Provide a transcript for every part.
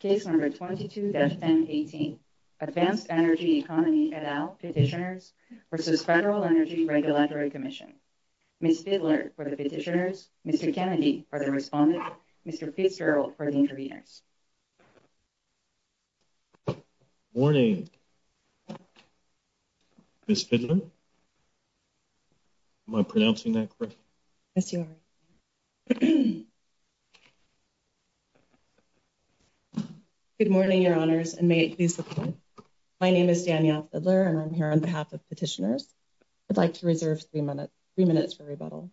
Case number 22-18. Advanced Energy Economy et al. Petitioners versus Federal Energy Regulatory Commission. Ms. Fidler for the petitioners, Mr. Kennedy for the respondents, Mr. Fitzgerald for the interveners. Morning. Ms. Fidler? Am I pronouncing that correctly? Yes, you are. Good morning, your honors, and may it be so kind. My name is Danielle Fidler, and I'm here on behalf of petitioners. I'd like to reserve three minutes for rebuttal.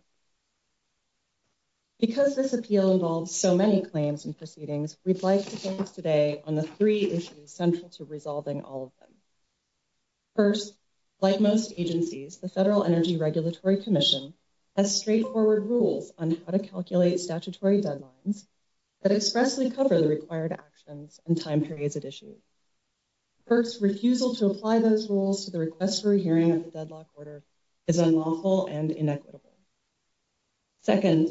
Because this appeal involves so many claims and proceedings, we'd like to focus today on the three issues central to resolving all of them. First, like most agencies, the Federal Energy Regulatory Commission has straightforward rules on how to calculate statutory deadlines that expressly cover the required actions and time periods at issue. First, refusal to apply those rules to the request for a hearing of the deadlock order is unlawful and inequitable. Second,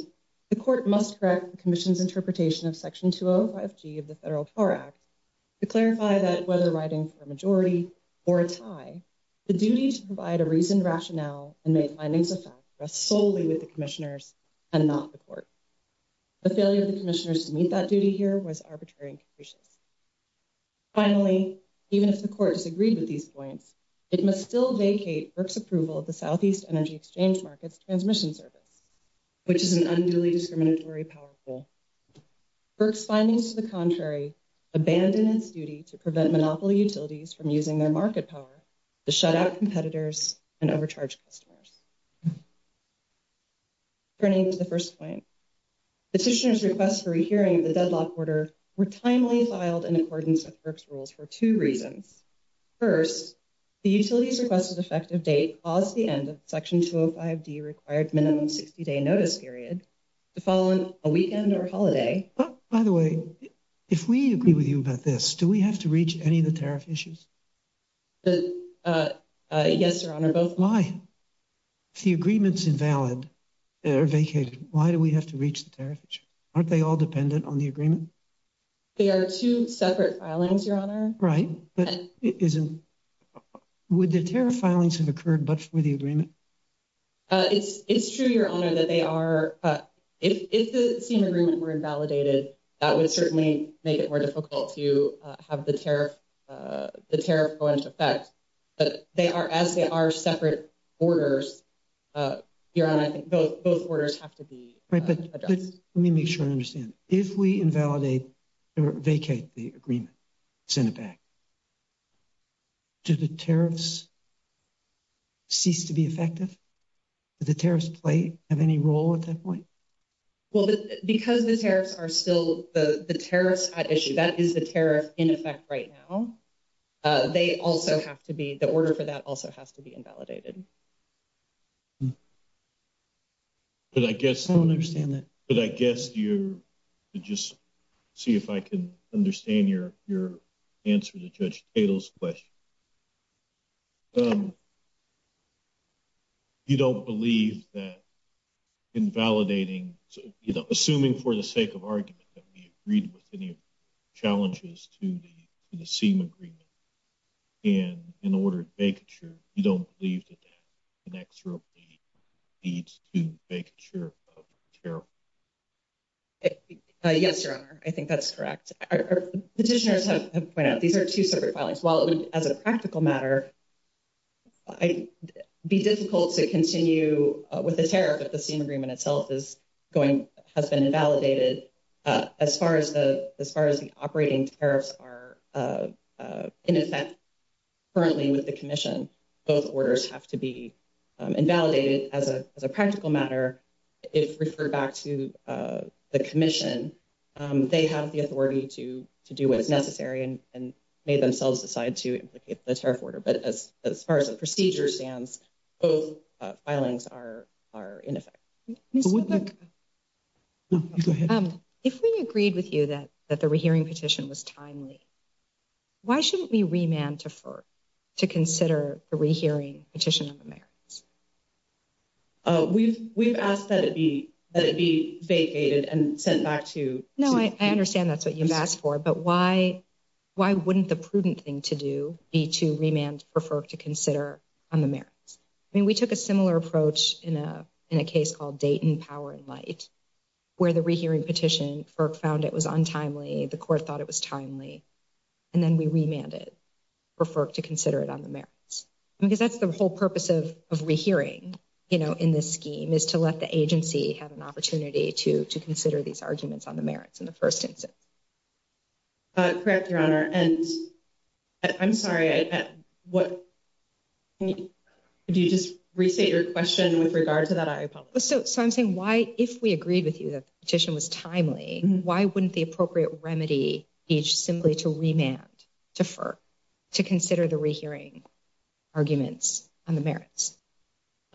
the court must correct the Commission's interpretation of Section 205G of the Federal FAR Act to clarify that whether writing for a majority or a tie, the duty to provide a reasoned rationale and make findings of fact rests solely with the commissioners and not the court. The failure of the commissioners to meet that duty here was arbitrary. Finally, even if the court has agreed with these points, it must still vacate FERC's approval of the Southeast Energy Exchange Markets Transmission Service, which is an unduly discriminatory power tool. FERC's findings to the contrary abandon its duty to prevent monopoly utilities from using their market power to shut out competitors and overcharge customers. Turning to the first point, petitioners' requests for a hearing of the deadlock order were timely filed in accordance with FERC's rules for two reasons. First, the utility's request of effective date caused the end of Section 205D required minimum 60-day notice period to fall on a weekend or holiday. By the way, if we agree with you about this, do we have to reach any of the tariff issues? Yes, Your Honor, both. Why? If the agreement's invalid or vacated, why do we have to reach the tariff issue? Aren't they all dependent on the agreement? They are two separate filings, Your Honor. Right, but would the tariff filings have occurred but for the agreement? It's true, Your Honor, that if the same agreement were invalidated, that would certainly make it more difficult to have the tariff go into effect. But they are, as they are separate orders, Your Honor, I think both orders have to be addressed. Right, but let me make sure I understand. If we invalidate or vacate the agreement, send it back, do the tariffs cease to be effective? Do the tariffs play any role at that point? Well, because the tariffs are still the tariffs at issue, that is the tariff in effect right now, they also have to be, the order for that also has to be invalidated. But I guess, I don't understand that, but I guess you, just see if I can understand your answer to Judge Cato's question. You don't believe that invalidating, assuming for the sake of argument that we agreed with any challenges to the same agreement, and in order to make it true, you don't believe that that connects to the needs to make sure of the tariff? Yes, Your Honor, I think that's correct. Petitioners have to point out, these are two separate files. Well, at least as a practical matter, it would be difficult to continue with the tariff if the same agreement itself is going, has been invalidated. As far as the operating tariffs are in effect currently with the Commission, both orders have to be invalidated. As a practical matter, if referred back to the Commission, they have the authority to do what's necessary and may themselves decide to implicate the tariff order. But as far as the procedure stands, both filings are in effect. If we agreed with you that the rehearing petition was timely, why shouldn't we remand to FERC to consider the rehearing petition? We've asked that it be vacated and sent back to... No, I understand that's what you've asked for, but why wouldn't the prudent thing to do be to remand for FERC to consider on the merits? I mean, we took a similar approach in a case called Dayton Power and Light, where the rehearing petition, FERC found it was untimely, the court thought it was timely, and then we remanded for FERC to consider it on the merits. Because that's the whole purpose of rehearing in this scheme, is to let the agency have an opportunity to consider these arguments on the merits in the first instance. Correct, Your Honor. And I'm sorry, did you just restate your question with regard to that item? So I'm saying why, if we agreed with you that the petition was timely, why wouldn't the appropriate remedy be simply to remand to FERC to consider the rehearing arguments on the merits?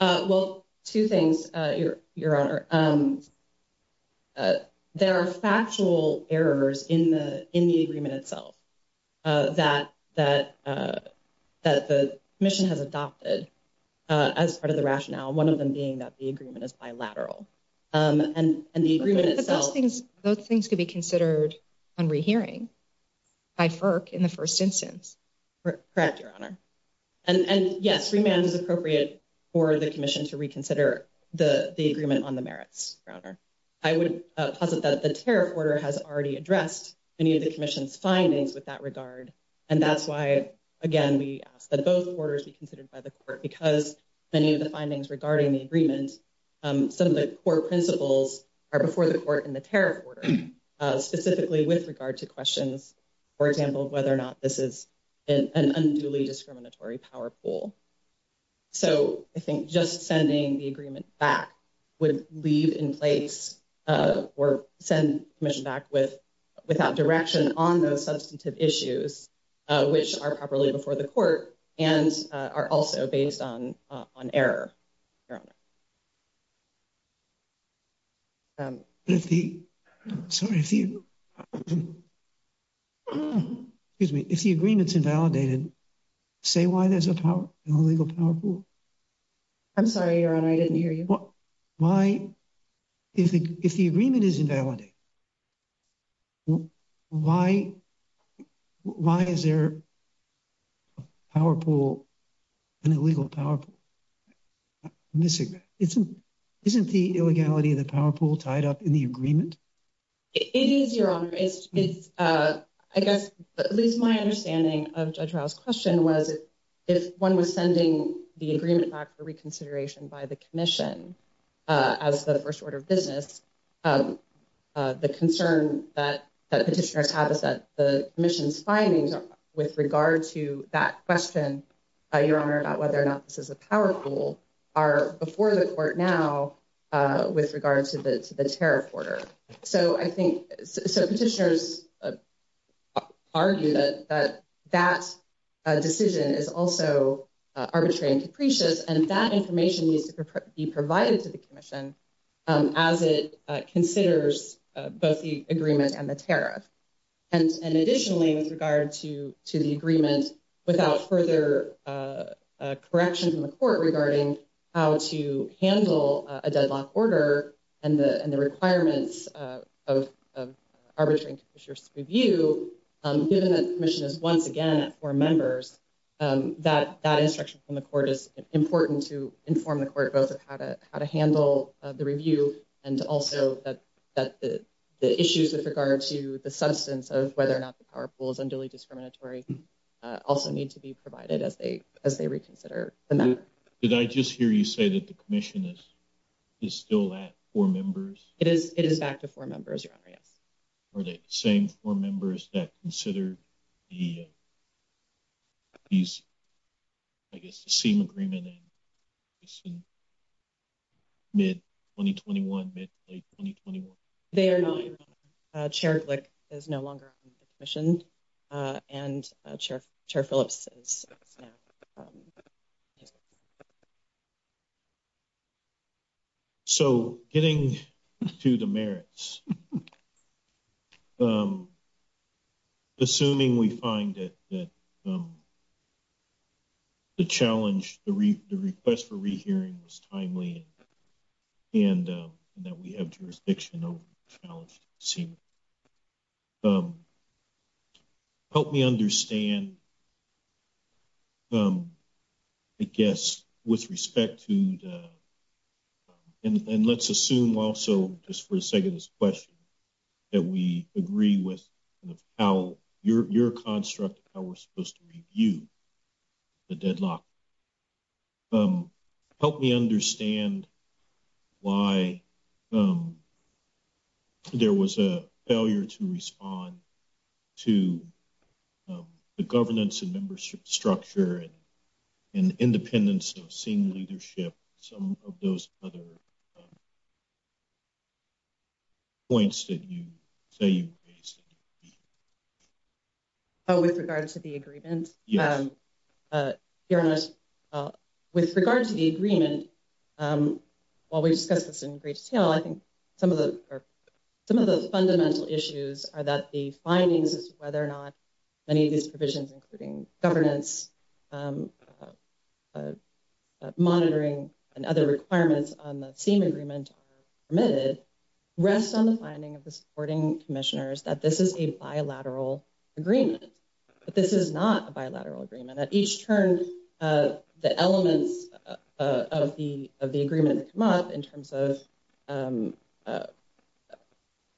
Well, two things, Your Honor. There are factual errors in the agreement itself that the commission has adopted as part of the rationale, one of them being that the agreement is bilateral. Those things could be considered on rehearing by FERC in the first instance. Correct, Your Honor. And yes, remand is appropriate for the commission to reconsider the agreement on the merits, Your Honor. I would posit that the tariff order has already addressed any of the commission's findings with that regard, and that's why, again, we ask that those orders be considered by the court, because many of the findings regarding the agreement, some of the core principles are before the court in the tariff order, specifically with regard to for example, whether or not this is an unduly discriminatory power pool. So I think just sending the agreement back would leave in place or send the commission back without direction on those substantive issues, which are properly before the court and are also based on error. Excuse me, if the agreement is invalidated, say why there's a power pool. I'm sorry, Your Honor, I didn't hear you. Why, if the agreement is invalidated, why is there a power pool, an illegal power pool? Isn't the illegality of the power pool tied up in the agreement? It is, Your Honor. I guess, Liz, my understanding of Judge Rao's question was, if one was sending the agreement back for reconsideration by the commission as the first order of business, the concern that petitioners have is that the commission's findings with regard to that question, Your Honor, about whether or not this is a power pool, are before the court now with regard to the tariff order. So I think, so petitioners would argue that that decision is also arbitrary and capricious and that information needs to be provided to the commission as it considers both the agreement and the tariff. And additionally, with regard to the agreement without further corrections in the court regarding how to review, given that the commission is once again at four members, that that instruction from the court is important to inform the court both of how to handle the review and also that the issues with regard to the substance of whether or not the power pool is unduly discriminatory also need to be provided as they reconsider the matter. Did I just hear you say that the commission is still at four members? It is back to four members, Your Honor. Are they the same four members that considered the, I guess, the same agreement in mid-2021, mid-late 2021? Chair Glick is no longer on the commission and Chair Phillips is now. So getting to the merits, assuming we find that the challenge, the request for rehearing was timely and that we have jurisdiction over the challenge, help me understand I guess with respect to the, and let's assume also just for the sake of this question, that we agree with how your construct, how we're supposed to review the deadlock. Help me understand why there was a failure to respond to the governance and membership structure and independence of senior leadership, some of those other points that you say you've raised. With regard to the agreement, Your Honor, with regard to the agreement, while we discuss this in great detail, I think some of those fundamental issues are that the governance, monitoring, and other requirements on the same agreement rest on the finding of the supporting commissioners that this is a bilateral agreement. But this is not a bilateral agreement. At each turn, the elements of the agreement come up in terms of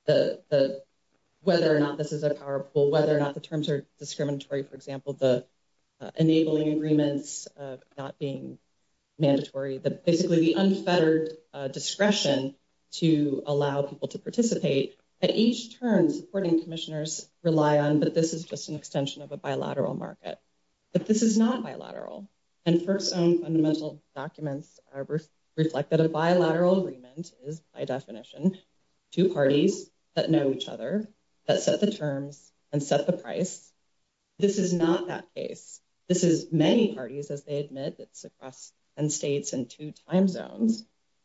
whether or not this is a power pull, whether or not the terms are discriminatory, for example, the enabling agreements not being mandatory, but basically the unfettered discretion to allow people to participate. At each turn, supporting commissioners rely on that this is just an extension of a bilateral market. But this is not bilateral, and first own fundamental documents reflect that a bilateral agreement is by definition two parties that know each other, that set the terms, and set the price. This is not that case. This is many parties, as they admit. It's across 10 states and two time zones.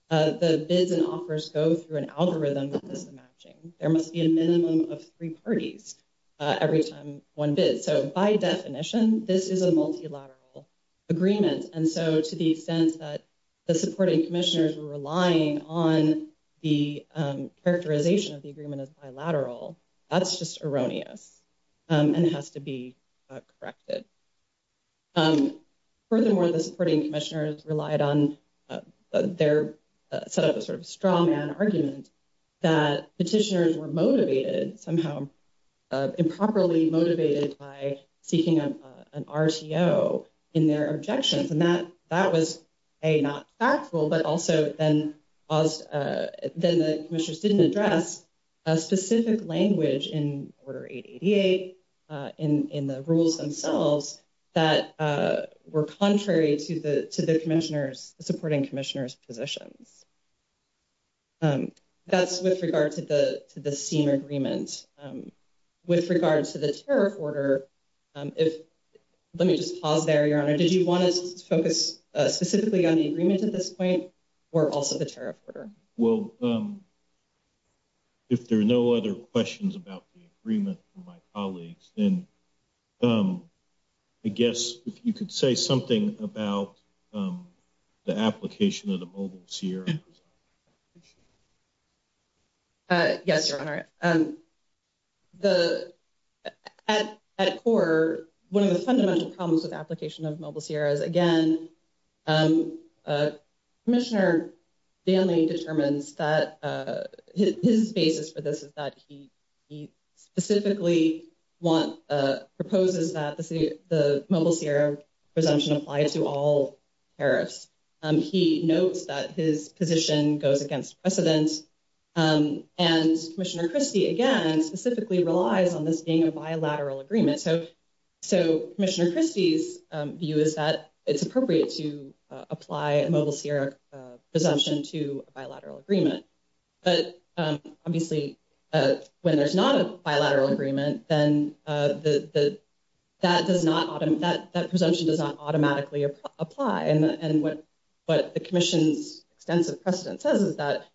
The bids and offers go through an algorithm that isn't matching. There must be a minimum of three parties every time one bids. So by definition, this is a multilateral agreement. And so to the extent that the characterization of the agreement is bilateral, that's just erroneous and has to be corrected. Furthermore, the supporting commissioners relied on their sort of strong argument that petitioners were motivated, somehow improperly motivated by seeking an RCO in their objections. And that was a not factual, but also then the commissioners didn't address a specific language in Order 888 in the rules themselves that were contrary to the supporting commissioners' position. That's with regard to the senior agreement. With regards to the tariff order, let me just pause there, Your Honor. Did you want to focus specifically on the agreement at this point, or also the tariff order? Well, if there are no other questions about the agreement from my colleagues, then I guess if you could say something about the application of the Mobiles here. Yes, Your Honor. At core, one of the fundamental problems with application of Mobiles here is, again, Commissioner Daly determined that his basis for this is that he specifically wants, proposes that the Mobiles here presumption applies to all tariffs. He knows that his position goes against precedence, and Commissioner Christie, again, specifically relies on this being a bilateral agreement. So Commissioner Christie's view is that it's appropriate to apply a Mobiles here presumption to a bilateral agreement. But obviously, when there's not a bilateral agreement, then that presumption does not automatically apply. And what the commission's sense of precedence says is that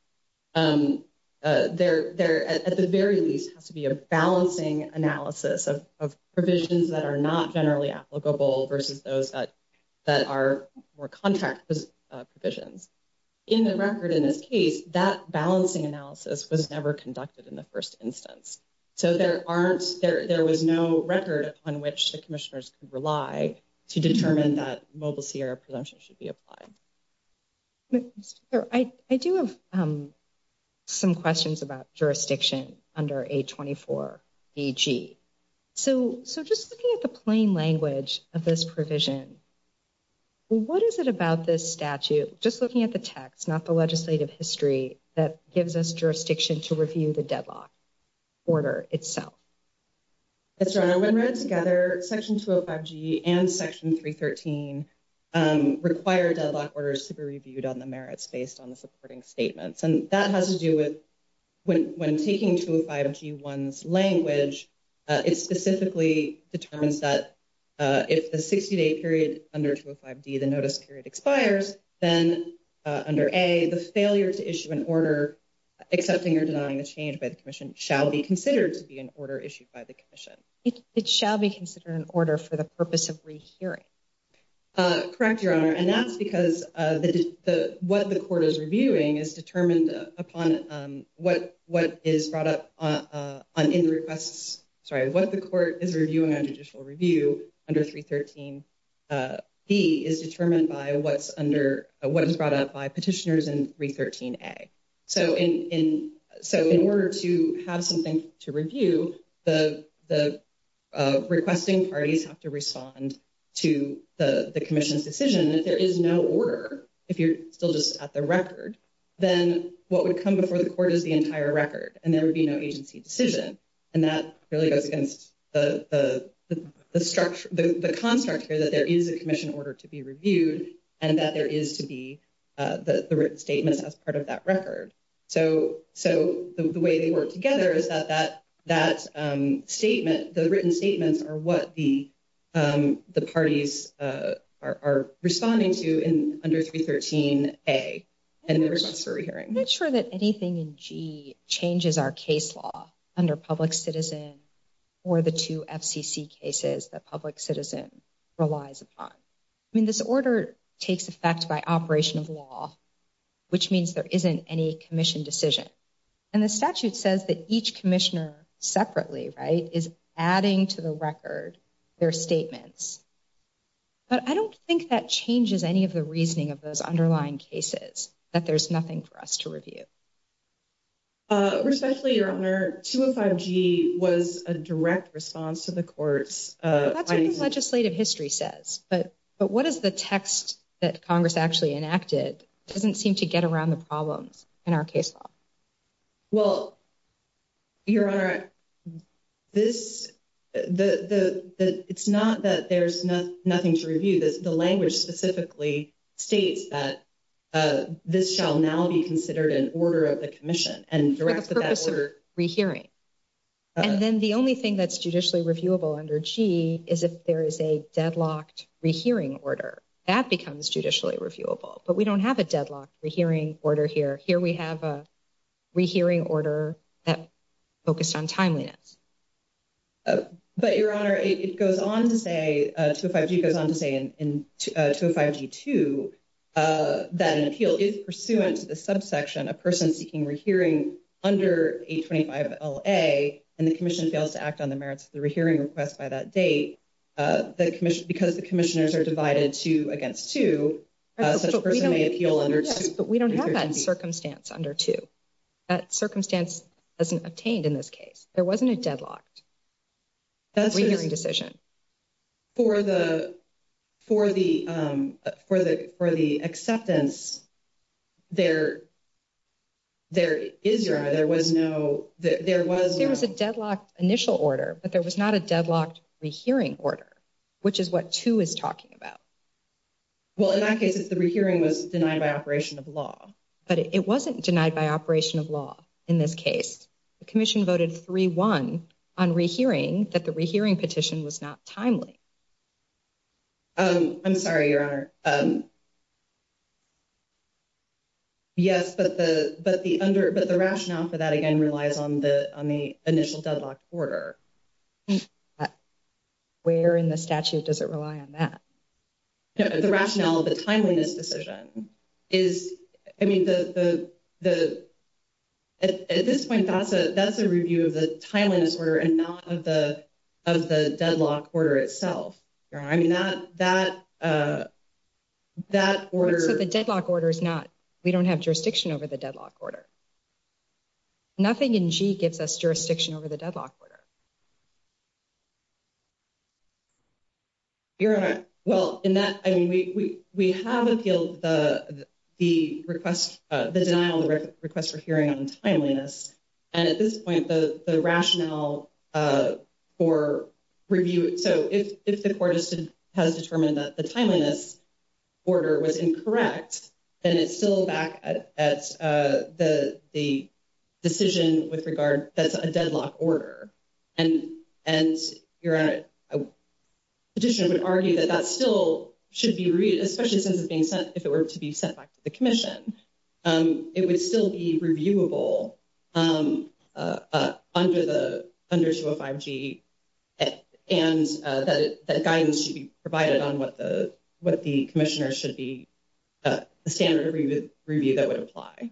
there, at the very least, has to be a balancing analysis of provisions that are not generally applicable versus those that are more contract provisions. In the record in this case, that balancing analysis was never conducted in the first instance. So there was no record on which the commissioners could rely to determine that Mobiles here presumption should be applied. I do have some questions about jurisdiction under 824 AG. So just looking at the plain language of this provision, what is it about this statute, just looking at the text, not the legislative history, that gives us jurisdiction to review the deadlock order itself? That's right. When read together, Section 205G and Section 313 require deadlock orders to be reviewed on the merits based on the supporting statements. And that has to do with when taking 205G1's language, it specifically determines that if the 60-day period under 205D, the notice period expires, then under A, the failure to issue an order accessing or denying a change by the commission shall be considered to be an order issued by the commission. It shall be considered an order for the purpose of re-hearing. Correct, Your Honor. And that's because what the court is reviewing is determined upon what is brought up in the request. Sorry, the court is reviewing a judicial review under 313B is determined by what's under, what is brought up by petitioners in 313A. So in order to have something to review, the requesting parties have to respond to the commission's decision that there is no order if you're still just at the record. Then what would come before the court is the entire record and there would be no agency decision. And that really goes against the construct here, that there is a commission order to be reviewed and that there is to be the written statement as part of that record. So the way they work together is that that statement, the written statements are what the parties are responding to in under 313A. And there's for re-hearing. Not sure that anything in G changes our case law under public citizen or the two FCC cases that public citizen relies upon. I mean, this order takes effect by operation of law, which means there isn't any commission decision. And the statute says that each commissioner separately, right, is adding to the record their statements. But I don't think that changes any of the reasoning of those underlying cases, that there's nothing for us to review. Respectfully, Your Honor, 205G was a direct response to the court's- That's what the legislative history says. But what is the text that Congress actually enacted doesn't seem to get around the problem in our case law. Well, Your Honor, it's not that there's nothing to review, but the language specifically states that this shall now be considered an order of the commission. For the purpose of re-hearing. And then the only thing that's judicially reviewable under G is if there is a deadlocked re-hearing order. That becomes judicially reviewable, but we don't have a deadlocked re-hearing order here. Here we have a re-hearing order that's focused on timeliness. But, Your Honor, it goes on to say, 205G goes on to say in 205G-2, that an appeal is pursuant to the subsection, a person seeking re-hearing under H-25LA, and the commission fails to act on the merits of the re-hearing request by that date, the commission, because the commissioners are divided two against two. But we don't have that circumstance under two. That circumstance isn't obtained in this case. There wasn't a deadlock. That's a re-hearing decision. For the acceptance, there is, Your Honor, there was no, there was... initial order, but there was not a deadlocked re-hearing order, which is what two is talking about. Well, in that case, it's the re-hearing was denied by operation of law, but it wasn't denied by operation of law in this case. The commission voted 3-1 on re-hearing, that the re-hearing petition was not timely. I'm sorry, Your Honor. Yes, but the rationale for that, again, relies on the initial deadlocked order. Where in the statute does it rely on that? No, the rationale of the timeliness decision is, I mean, at this point, that's a review of timeliness order and not of the deadlocked order itself. I mean, that order... But the deadlocked order is not, we don't have jurisdiction over the deadlocked order. Nothing in G gives us jurisdiction over the deadlocked order. Your Honor, well, in that, I mean, we have appealed the request, the denial of request for hearing on timeliness. And at this point, the rationale for review, so if the court has determined that the timeliness order was incorrect, then it's still back at the decision with regard that's a deadlocked order. And Your Honor, a petitioner would argue that that still should be read, especially if it were to be sent back to the commission. It would still be reviewable under 205G. And that guidance should be provided on what the commissioner should be, the standard review that would apply.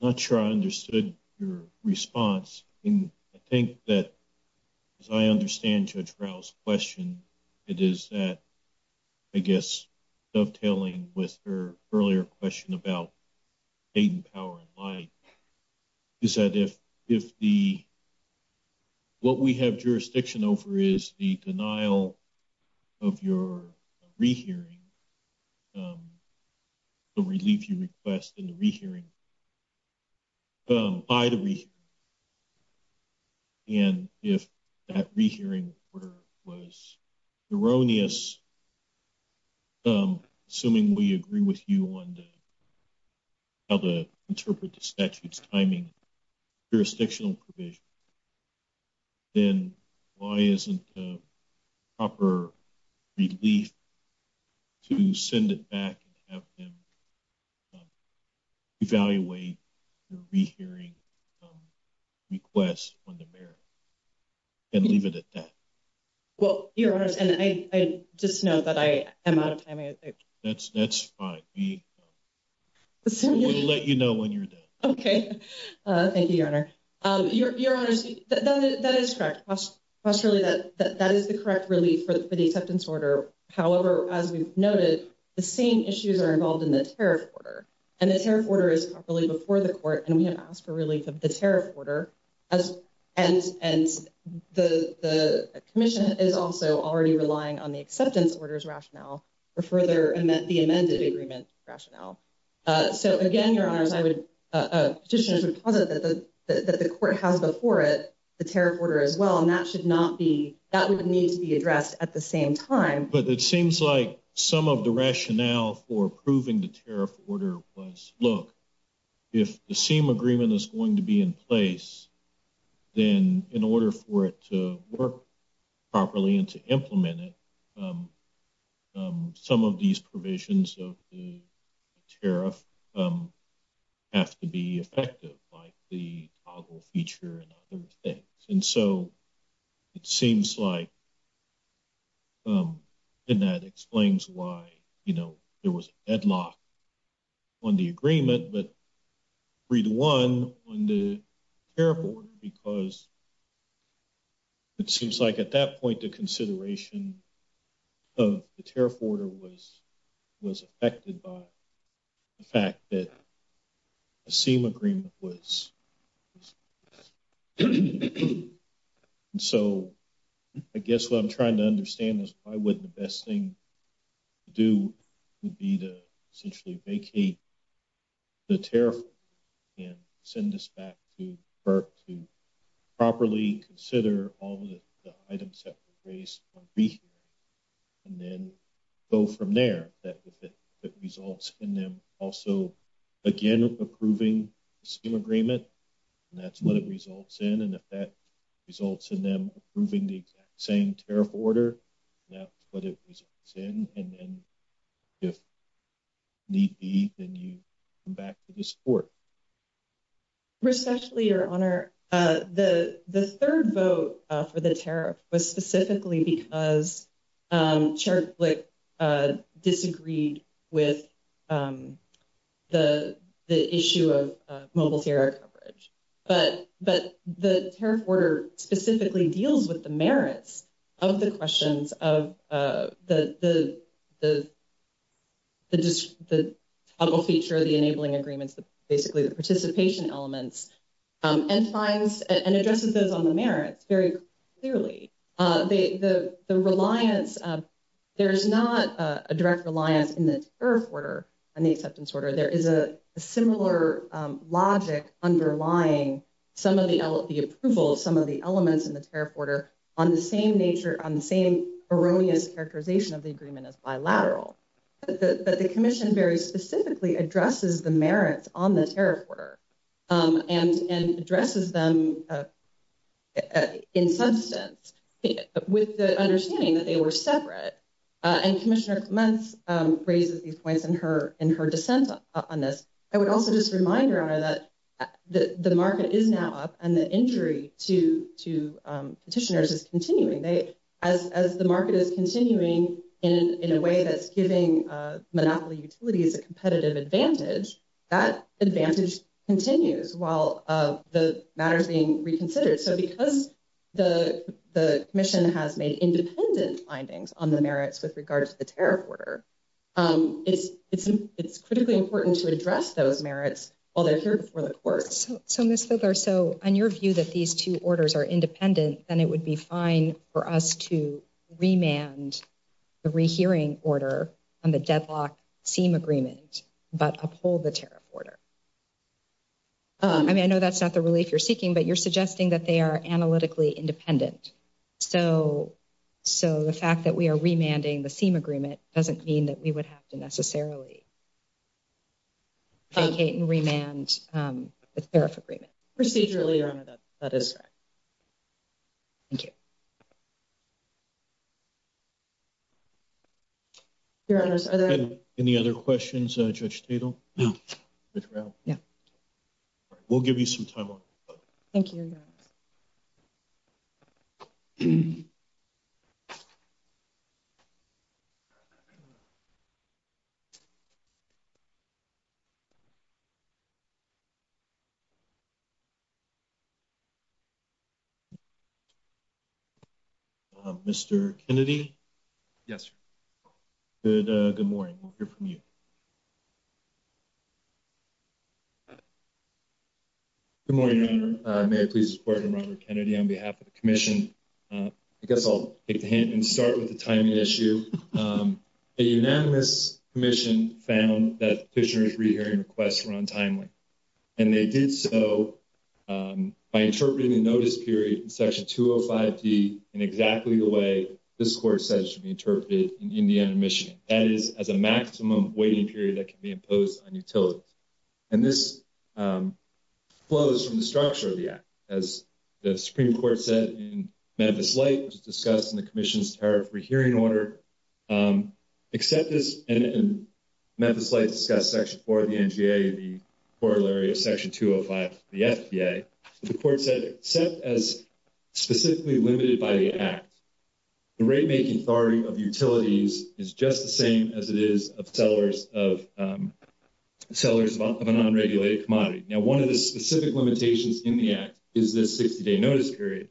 I'm not sure I understood your response. And I think that, as I understand Judge Rao's question, it is that, I guess, dovetailing with her earlier question about patent power and life, is that if the, what we have jurisdiction over is the denial of your rehearing, the relief you request in the rehearing, by the rehearing. And if that rehearing order was erroneous, assuming we agree with you on how to interpret the statute's timing, jurisdictional provision, then why isn't the proper relief to send it back and have them evaluate the rehearing request on the merits and leave it at that? Well, Your Honor, and I just know that I am out of time. That's fine. We'll let you know when you're done. Okay. Thank you, Your Honor. Your Honor, that is correct. That is the correct relief for the acceptance order. However, as we've noticed, the same issues are involved in the tariff order. And the tariff order is properly before the court, and we have asked for relief of the tariff order as, and the commission is also already relying on the acceptance order's rationale for further, the amended agreement's rationale. So again, Your Honor, as I would, as a petitioner, I would tell them that the court has before it the tariff order as well, and that should not be, that would need to be addressed at the same time. But it seems like some of the rationale for then in order for it to work properly and to implement it, some of these provisions of the tariff have to be effective, like the toggle feature and other things. And so it seems like, and that explains why, you know, there was a headlock on the agreement, but on the tariff order, because it seems like at that point, the consideration of the tariff order was affected by the fact that the same agreement was. And so I guess what I'm trying to understand is probably what the best thing to do would be to essentially vacate the tariff and send this back to FERC to properly consider all the items that were raised on the brief, and then go from there. That results in them also, again, approving the same agreement, and that's what it results in. And if that results in them approving the exact same tariff order, that's what it results in. And then if need be, then you come back to this court. Respectfully, Your Honor, the third vote for the tariff was specifically because Chair Flick disagreed with the issue of mobile tariff coverage. But the tariff order specifically deals with the merits of the questions of the toggle feature, the enabling agreements, basically the participation elements, and finds and addresses those on the merits very clearly. The reliance, there's not a direct reliance in this tariff order, in the acceptance order. There is a similar logic underlying some of the approvals, some of the elements in this tariff order on the same nature, on the same erroneous characterization of the agreement as bilateral. But the commission very specifically addresses the merits on this tariff order and addresses them in some sense with the understanding that they were separate. And Commissioner Munz raises these points in her dissent on this. I think the issue is that the market is now up and the injury to petitioners is continuing. As the market is continuing in a way that's giving monopoly utilities a competitive advantage, that advantage continues while the matter is being reconsidered. So because the commission has made independent findings on the merits with regards to the tariff order, it's critically important to address those merits while they're served before the courts. So Ms. Fidler, so on your view that these two orders are independent, then it would be fine for us to remand the rehearing order on the deadlocked theme agreement, but uphold the tariff order. I mean, I know that's not the relief you're seeking, but you're suggesting that they are analytically independent. So the fact that we are remanding the theme agreement doesn't mean that we would have to necessarily complicate and remand the tariff agreement. Procedurally remanded, that is correct. Thank you. Any other questions, Judge Stegall? We'll give you some time off. Thank you. Mr. Kennedy? Yes. Good morning. We'll hear from you. Good morning. May I please report on Robert Kennedy on behalf of the commission? I guess I'll take a hint and start with the timing issue. A unanimous commission found that petitioner's rehearing requests were untimely. And they did so by interpreting the notice period in Section 205D in exactly the way this court says should be interpreted in the end mission, that is, as a maximum waiting period that can be imposed on utility. And this flows from the structure of the act. As the Supreme Court said in Memphis Light, which is discussed in the commission's tariff rehearing order, except as Memphis Light discussed Section 4 of the NGA, the corollary of Section 205 of the FDA, the court said, except as specifically limited by the act, the rate making authority of utilities is just the same as it is of sellers of an unregulated commodity. Now, one of the specific limitations in the act is this 60-day notice period.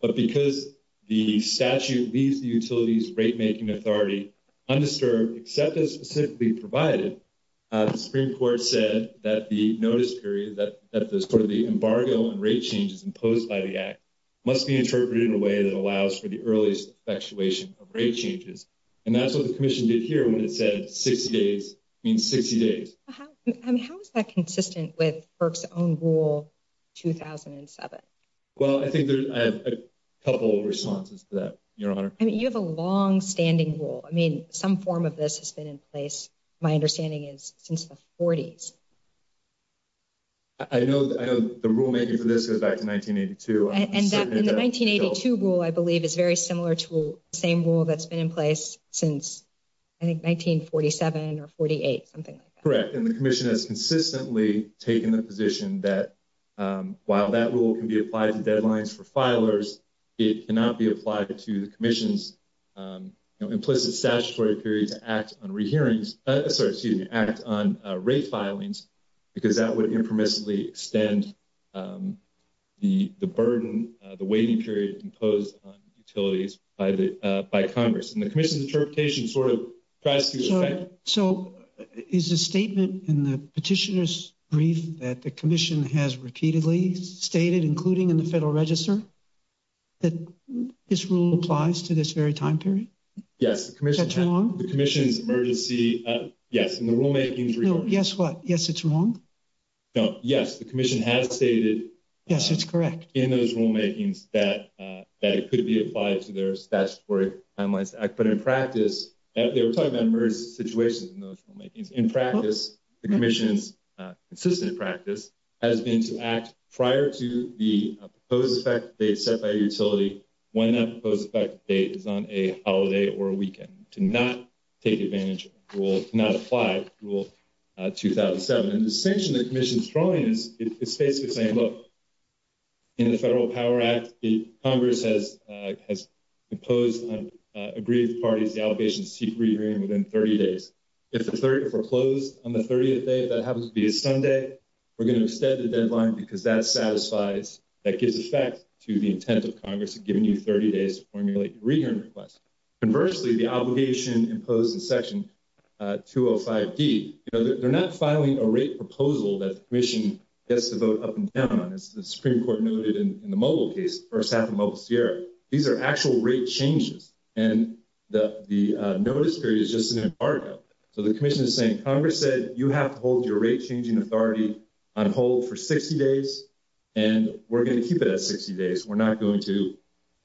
But because the statute leaves the utilities rate making authority undisturbed, except as specifically provided, the Supreme Court said that the notice period, that the embargo on rate change imposed by the act, must be interpreted in a way that allows for the earliest effectuation of rate changes. And that's what the commission did here when it said 60 days in 60 days. How is that consistent with FERC's own rule 2007? Well, I think there's a couple of responses to that, Your Honor. I mean, you have a long-standing rule. I mean, some form of this has been in place, my understanding is, since the 40s. I know the rulemaking for this goes back to 1982. And the 1982 rule, I believe, is very similar to the same rule that's been in place since, I think, 1947 or 48, something like that. And the commission has consistently taken the position that, while that rule can be applied to deadlines for filers, it cannot be applied to the commission's implicit statutory period to act on rate filings, because that would impermissibly extend the burden, the waiting period imposed on utilities by Congress. And the commission's interpretation sort of tries to... So, is the statement in the petitioner's brief that the commission has repeatedly stated, including in the Federal Register, that this rule applies to this very time period? Yes. Is that too long? The commission's emergency... Yes, and the rulemaking... Yes, what? Yes, it's long? No. Yes, the commission has stated... Yes, that's correct. ...in those rulemakings that it could be applied to their statutory timeline. But in practice, they were talking about emergency situations in those rulemakings. In practice, the commission's consistent practice has been to act prior to the proposed effective date set by a utility when that proposed effective date is on a holiday or a weekend, to not take advantage of the rule, to not apply to Rule 2007. And the distinction the commission is drawing is basically saying, look, in the Federal Power Act, Congress has imposed on agreed parties the obligation to seek re-agreement within 30 days. If the 30 days are closed on the 30th day, if that happens to be a Sunday, we're going to extend the deadline because that satisfies, that gives effect to the intent of Congress giving you 30 days to formulate your re-agreement request. Conversely, the obligation imposed in Section 205D, they're not filing a rate proposal that the commission gets to vote up and down on, as the Supreme Court noted in the Moble case, the first half of Moble-Sierra. These are actual rate changes, and the notice period is just an embargo. So the commission is saying, Congress said you have to hold your rate-changing authority on hold for 60 days, and we're going to keep it at 60 days. We're not going to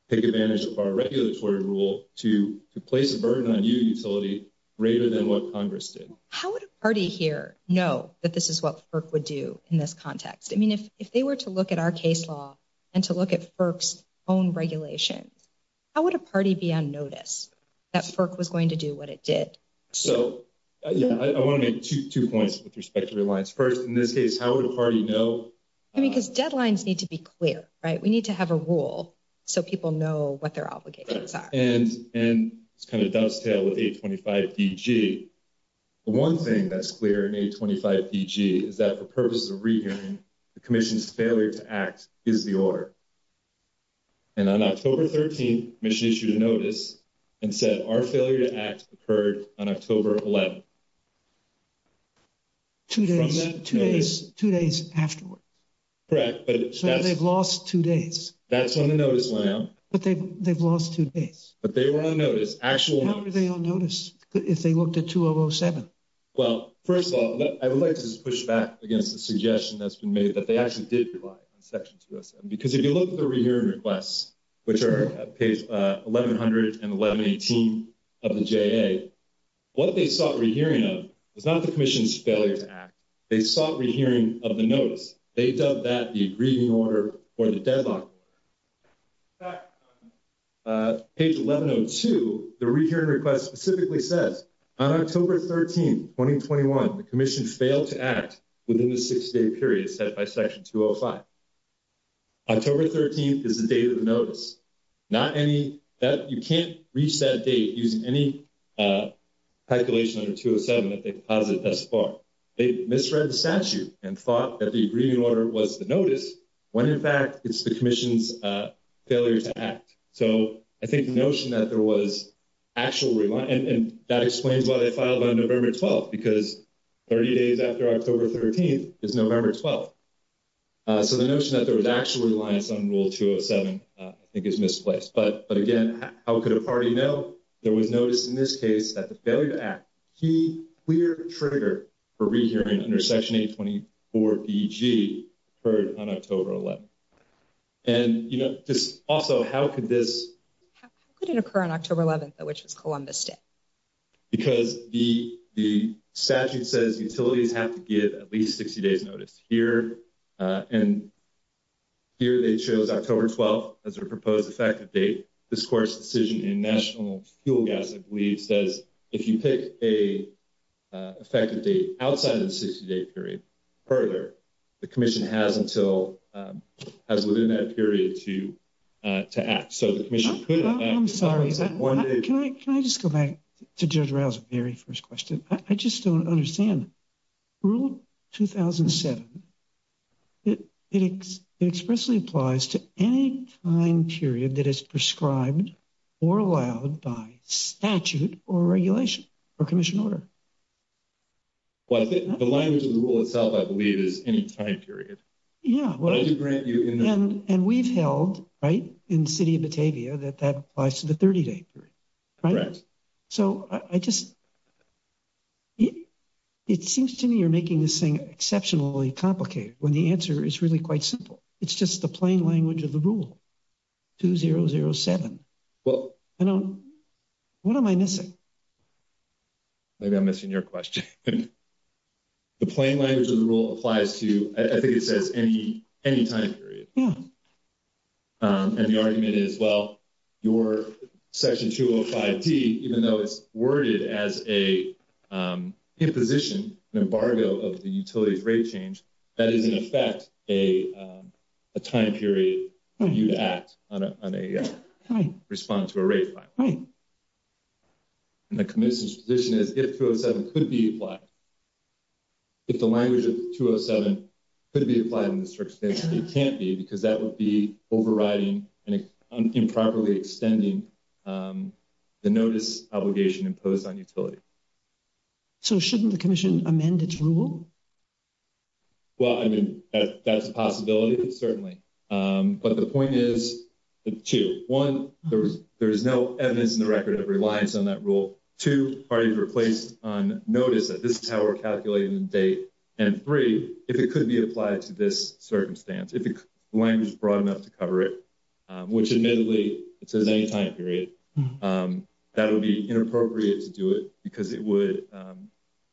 take advantage of our regulatory rule to place a burden on you, utility, greater than what Congress did. How would a party here know that this is what FERC would do in this context? I mean, if they were to look at our case law and to look at FERC's own regulation, how would a party be unnoticed that FERC was going to do what it did? So, yeah, I want to make two points with respect to your lines. First, in this case, how would a party know? I mean, because deadlines need to be clear, right? We need to have a rule so people know what their obligations are. And it's kind of a dovetail with 825 DG. The one thing that's clear in 825 DG is that the purpose of re-hearing the commission's failure to act is the order. And on October 13, the commission issued a notice and said our failure to act occurred on October 11. Two days, two days, two days afterward. Correct. So they've lost two days. That's when the notice went out. But they've lost two days. But they were unnoticed. How would they be unnoticed if they looked at 2007? Well, first of all, I would like to just push back against the suggestion that's been made that they actually did rely on Section 207. Because if you look at the re-hearing requests, which are page 1100 and 1118 of the JA, what they sought re-hearing of was not the commission's failure to act. They sought re-hearing of the notice. They dubbed that the agreed in order or the deadline. In fact, page 1102, the re-hearing request specifically says, on October 13, 2021, the commission failed to act within the six-day period set by Section 205. October 13 is the date of the notice. Not any – you can't reach that date using any calculation under 207 that they've posited thus far. They've misread the statute and thought that the agreed in order was the notice when, in fact, the commission's failure to act. So I think the notion that there was actual – and that explains why they filed on November 12, because 30 days after October 13 is November 12. So the notion that there was actual reliance on Rule 207, I think, is misplaced. But again, how could a party know? They would notice in this case that the failure to act, key clear trigger for re-hearing under Section 824 EG, occurred on October 11. And yet, this – also, how could this – It didn't occur on October 11, though, which is Columbus Day. Because the statute says utilities have to give at least 60-day notice here. And here, they chose October 12 as their proposed effective date. This court's decision in national fuel gas agreement says if you pick an effective date as within that period to act. So the commission could have – I'm sorry, can I just go back to Judge Rouse's very first question? I just don't understand. Rule 2007, it expressly applies to any time period that is prescribed or allowed by statute or regulation or commission order. Well, I think the language of the rule itself, I believe, is any time period. Yeah. And we've held, right, in the City of Batavia that that applies to the 30-day period, right? Right. So I just – it seems to me you're making this thing exceptionally complicated when the answer is really quite simple. It's just the plain language of the rule, 2007. I don't – what am I missing? Maybe I'm missing your question. The plain language of the rule applies to – I think it says any time period. Yeah. And the argument is, well, your section 205D, even though it's worded as an imposition, an embargo of the utility's rate change, that doesn't affect a time period when you act on a response to a rate fine. Right. And the commission's position is, if 207 could be applied – if the language of 207 could be applied in this circumstance, it can't be because that would be overriding and improperly extending the notice obligation imposed on utilities. So shouldn't the commission amend its rule? Well, I mean, that's a possibility, certainly. But the point is two. One, there is no evidence in the record that relies on that rule. Two, parties are placed on notice that this is how we're calculating the date. And three, if it could be applied to this circumstance, if the language is broad enough to cover it, which admittedly, it's an any time period, that would be inappropriate to do it because it would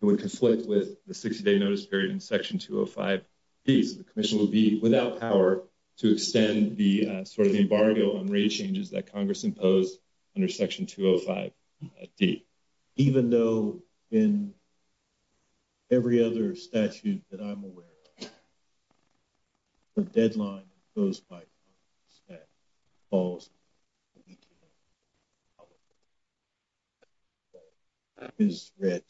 conflict with the 60-day notice period in section 205D. The commission would be without power to extend the sort of embargo on rate changes that Congress imposed under section 205D. Even though in every other statute that I'm aware of, the deadline imposed by the statute falls to the end of August. So that is a threat.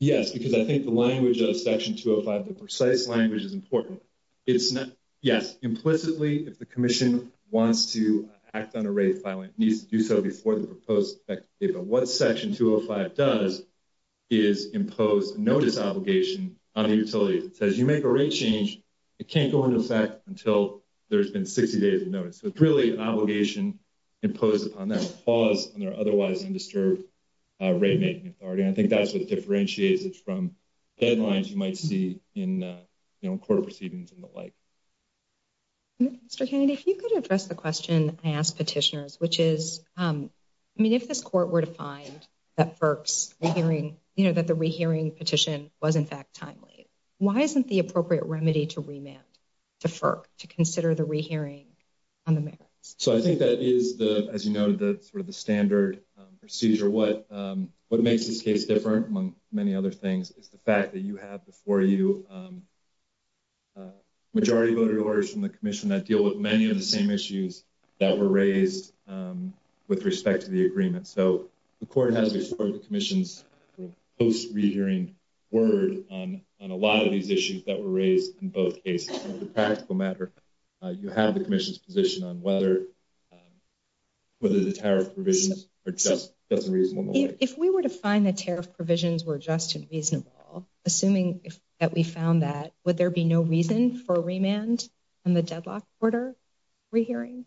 Yes, because I think the language of section 205, the precise language is important. Yes, implicitly, if the commission wants to act on a rate filing, it needs to do so before the proposed effective date. But what section 205 does is impose notice obligation on utilities. It says you make a rate change, it can't go into effect until there's been 60 days of notice. So it's really an obligation imposed upon them to pause on their otherwise undisturbed rate making authority. I think that's what differentiates it from deadlines you might see in court proceedings and the like. Mr. Kennedy, if you could address the question I asked petitioners, which is, I mean, if this court were to find that FERC's rehearing, you know, that the rehearing petition was in fact timely, why isn't the appropriate remedy to remit to FERC to consider the rehearing So I think that is, as you know, the sort of the standard procedure. What makes this case different, among many other things, is the fact that you have before you majority voter orders from the commission that deal with many of the same issues that were raised with respect to the agreement. So the court has restored the commission's post-rehearing word on a lot of these issues that were raised in both cases. As a practical matter, you have the commission's position on whether the tariff provisions are just as reasonable. If we were to find the tariff provisions were just as reasonable, assuming that we found that, would there be no reasons for a remand in the deadlock order rehearing?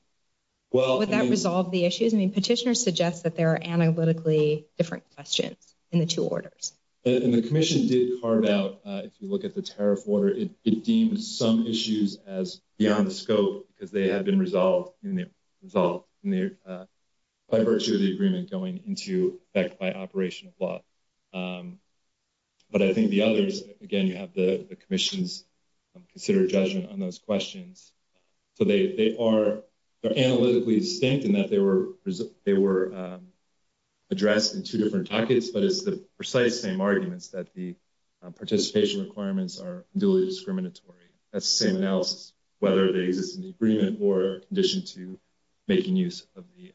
Would that resolve the issue? I mean, petitioners suggest that there are analytically different questions in the two orders. The commission did carve out, if you look at the tariff order, it deems some issues as beyond the scope because they have been resolved in the diversity of the agreement going into effect by operation of law. But I think the others, again, you have the commission's considered judgment on those questions. So they are analytically distinct in that they were addressed in two different packets, but it's the precise same arguments that the participation requirements are really discriminatory. That's the same analysis, whether there exists an agreement or a condition to making use of the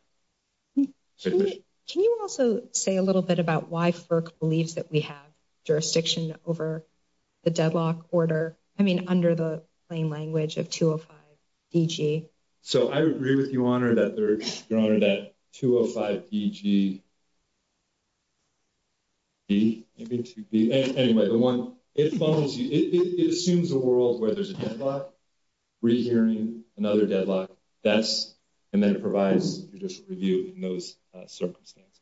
tariff. Can you also say a little bit about why FERC believes that we have jurisdiction over the deadlock order? I mean, under the plain language of 205 DG. So I agree with you, Honor, that 205 DG, anyway, it assumes a world where there's a deadlock, rehearing, another deadlock, and then it provides a judicial review in those circumstances.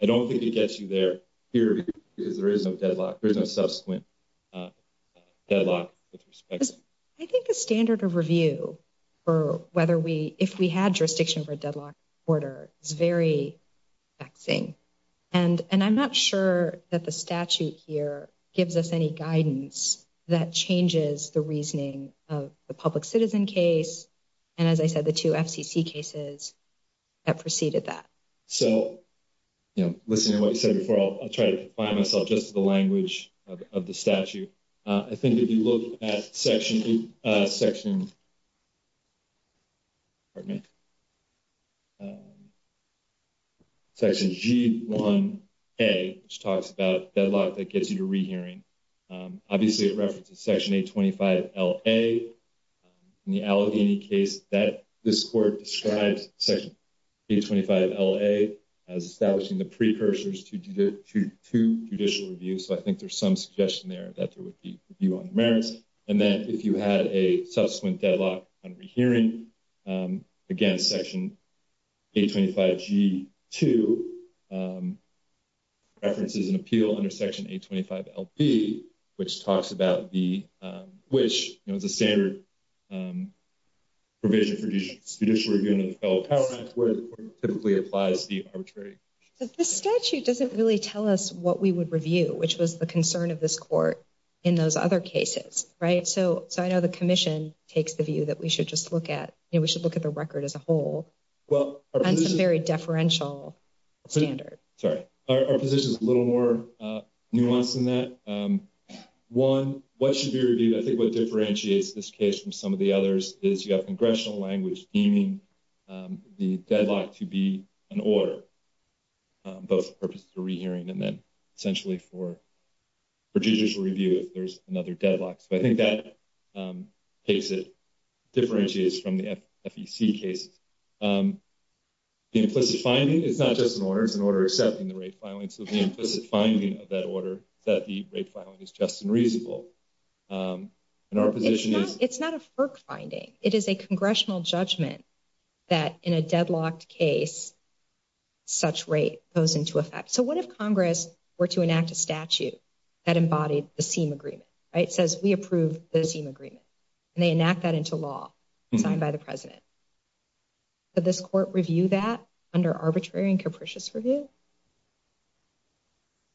I don't think it gets you there because there is no subsequent deadlock. I think the standard of review for whether we, if we had jurisdiction for a deadlock order is very faxing. And I'm not sure that the statute here gives us any guidance that changes the reasoning of the public citizen case and, as I said, the two FCC cases that preceded that. So, you know, listening to what you said before, I'll try to find myself just the language of the statute. I think if you look at Section G1A, which talks about deadlock, that gets you to rehearing. Obviously, it references Section 825 LA. In the Allegheny case, this Court describes Section 825 LA as establishing the precursors to judicial review. So I think there's some suggestion there that there would be review on the merits. And then if you had a subsequent deadlock on rehearing, again, Section 825 G2 references an appeal under Section 825 LB, which talks about the, which, you know, the standard provision for judicial review in the Federal Power Act where it typically applies to be arbitrary. But the statute doesn't really tell us what we would review, which was the concern of this Court in those other cases. Right? So I know the Commission takes the view that we should just look at, you know, we should look at the record as a whole. Well. On some very deferential standards. Sorry. Our position is a little more nuanced than that. One, what should be reviewed, I think what differentiates this case from some of the others is you have congressional language deeming the deadlock to be an order. Both for purposes of rehearing and then essentially for judicial review if there's another deadlock. So I think that case, it differentiates from the FEC case. Implicit finding is not just an order. It's an order accepting the rape filing. So the implicit finding of that order, that the rape filing is just and reasonable. And our position is. It's not a FERC finding. It is a congressional judgment that in a deadlocked case. Such rate goes into effect. So what if Congress were to enact a statute that embodied the same agreement, right? It says we approve the same agreement and they enact that into law by the President. But this Court review that under arbitrary and capricious review.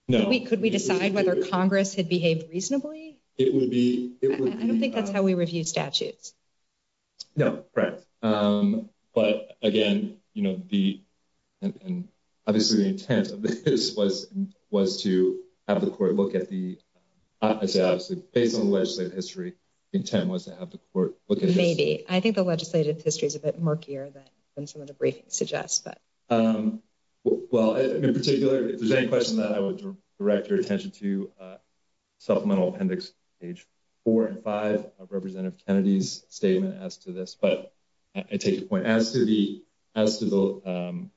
No, we could be deciding whether Congress had behaved reasonably. It would be. I don't think that's how we review statutes. No, right. But again, you know, the. And this is the intent of this was was to have the Court look at the. I guess based on legislative history intent was to have the Court. Maybe I think the legislative history is a bit murkier than some of the briefings suggest that. Well, in particular, if there's any questions that I would direct your attention to. Supplemental appendix age 4 and 5 of Representative Kennedy's statement as to this. But I take the point as to the as to the.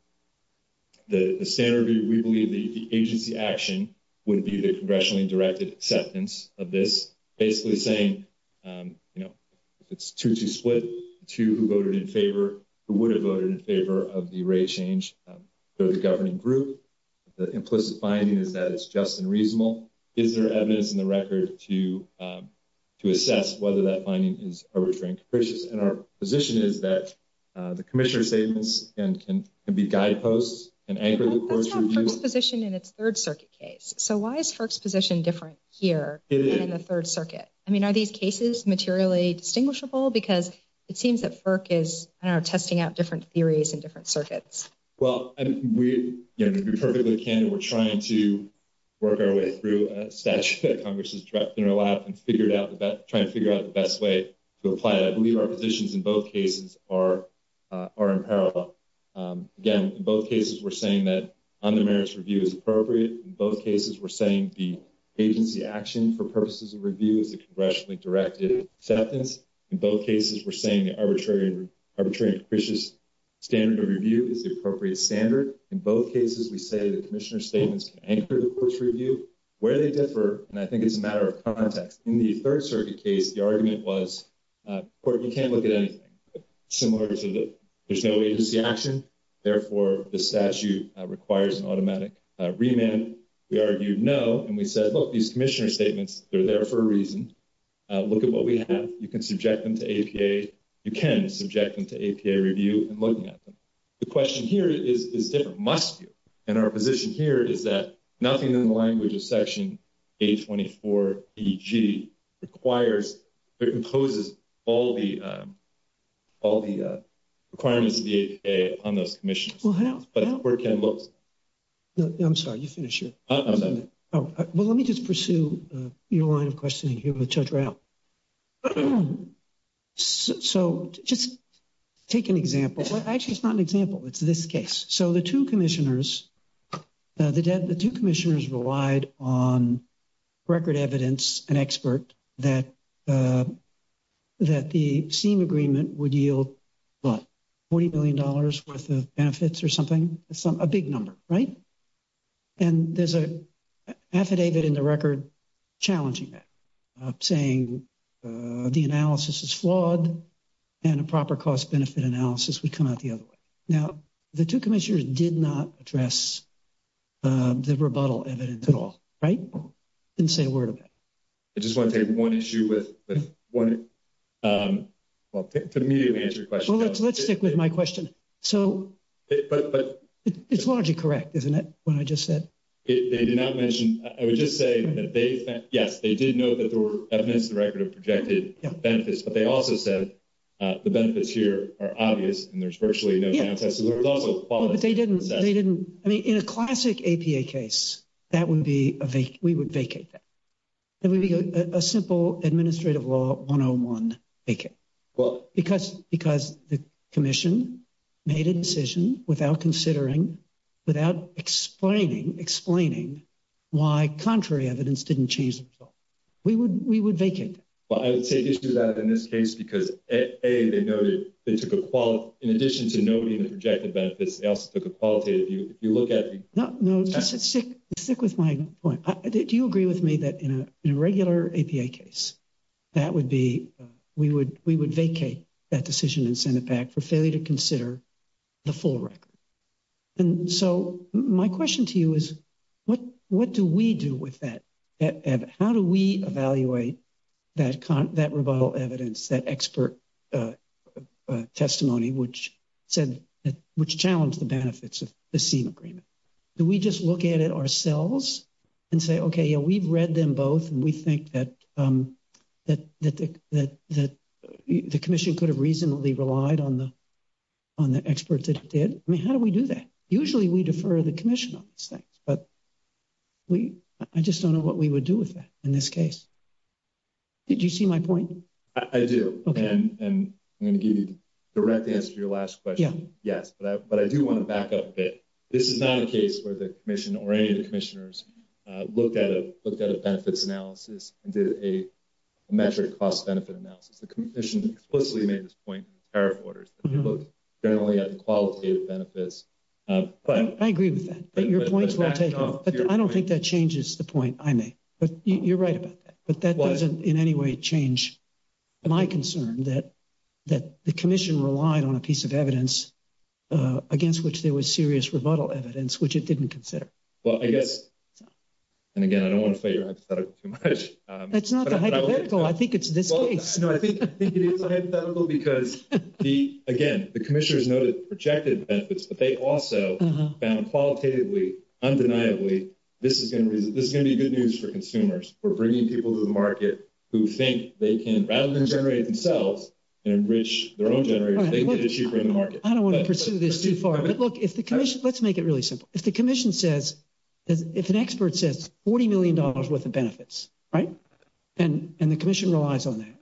The standard, we believe the agency action would be the congressionally directed acceptance of this. Basically saying, you know, it's 2 to split to who voted in favor, who would have voted in favor of the rate change for the governing group. The implicit finding is that it's just and reasonable. Is there evidence in the record to? To assess whether that finding is a restraint, which is in our position, is that the commissioner statements and can be guideposts and anchor. Position in its 3rd Circuit case. So why is first position different here in the 3rd Circuit? I mean, are these cases materially distinguishable? Because it seems that Burke is testing out different theories and different circuits. Well, and we perfectly can. We're trying to work our way through a statute that Congress is directing a lot and figured out that trying to figure out the best way to apply it. I believe our positions in both cases are are in parallel. Again, in both cases, we're saying that on the merits review is appropriate. In both cases, we're saying the agency action for purposes of review is the congressionally directed acceptance. In both cases, we're saying the arbitrary, arbitrary, standard of review is the appropriate standard. In both cases, we say the commissioner's statements can anchor the course review where they differ, and I think it's a matter of context. In the 3rd Circuit case, the argument was you can't look at anything similar to it. There's no agency action. Therefore, the statute requires an automatic remand. We argued no, and we said, well, these commissioner statements, they're there for a reason. Look at what we have. You can subject them to APA. You can subject them to APA review and look at them. The question here is there must be, and our position here is that nothing in the language of Section 824BG requires or imposes all the requirements of the APA on those commissioners. Well, how? That's where it can look. I'm sorry, you finish here. Well, let me just pursue your line of questioning here with Judge Rao. Well, so just take an example. Actually, it's not an example. It's this case. So the two commissioners, the two commissioners relied on record evidence and expert that the Seen Agreement would yield, well, $40 million worth of benefits or something. A big number, right? And there's a affidavit in the record challenging that, saying the analysis is flawed and a proper cost-benefit analysis would come out the other way. Now, the two commissioners did not address the rebuttal evidence at all, right? Didn't say a word about it. I just want to make one issue with one, well, to immediately answer your question. Well, let's stick with my question. So it's largely correct, isn't it, what I just said? They did not mention, I was just saying that they, yes, they did know that there were evidence in the record of projected benefits, but they also said the benefits here are obvious and there's virtually no contest. So there was also quality. But they didn't, they didn't. I mean, in a classic APA case, that wouldn't be, we would vacate that. It would be a simple administrative law one-on-one vacate. Well. Because the commission made a decision without considering, without explaining, explaining why contrary evidence didn't change at all. We would, we would vacate. Well, I would take issue with that in this case, because A, they noted, they took a quality, in addition to noting the projected benefits, they also took a quality, if you look at it. No, no, stick with my point. Do you agree with me that in a regular APA case, that would be, we would, we would vacate that decision and send it back for failure to consider the full record? And so my question to you is, what, what do we do with that? How do we evaluate that, that rebuttal evidence, that expert testimony, which said, which challenged the benefits of the SEMA agreement? Do we just look at it ourselves and say, okay, yeah, we've read them both. And we think that, that the commission could have reasonably relied on the, on the experts that did. I mean, how do we do that? Usually we defer the commission on these things, but we, I just don't know what we would do with that in this case. Did you see my point? I do, and I'm going to give you a direct answer to your last question. Yes, but I do want to back up a bit. This is not a case where the commission or any of the commissioners looked at a, looked at a benefits analysis and did a metric cost benefit analysis. The commission explicitly made this point in the power of orders, generally on qualitative benefits. I agree with that. Your point's my take home, but I don't think that changes the point I made. But you're right, but that doesn't in any way change my concern that, that the commission relied on a piece of evidence against which there was serious rebuttal evidence, which it didn't consider. Well, I guess, and again, I don't want to say you're hypothetical too much. That's not the hypothetical. I think it's the case. No, I think it is the hypothetical because he, again, the commissioners noted projected benefits, but they also found qualitatively, undeniably, this is going to be, this is going to be good news for consumers. We're bringing people to the market who think they can, rather than generate themselves and enrich their own generators, they can issue for the market. I don't want to pursue this too far. But look, if the commission, let's make it really simple. If the commission says, if an expert says $40 million worth of benefits, right? And the commission relies on that.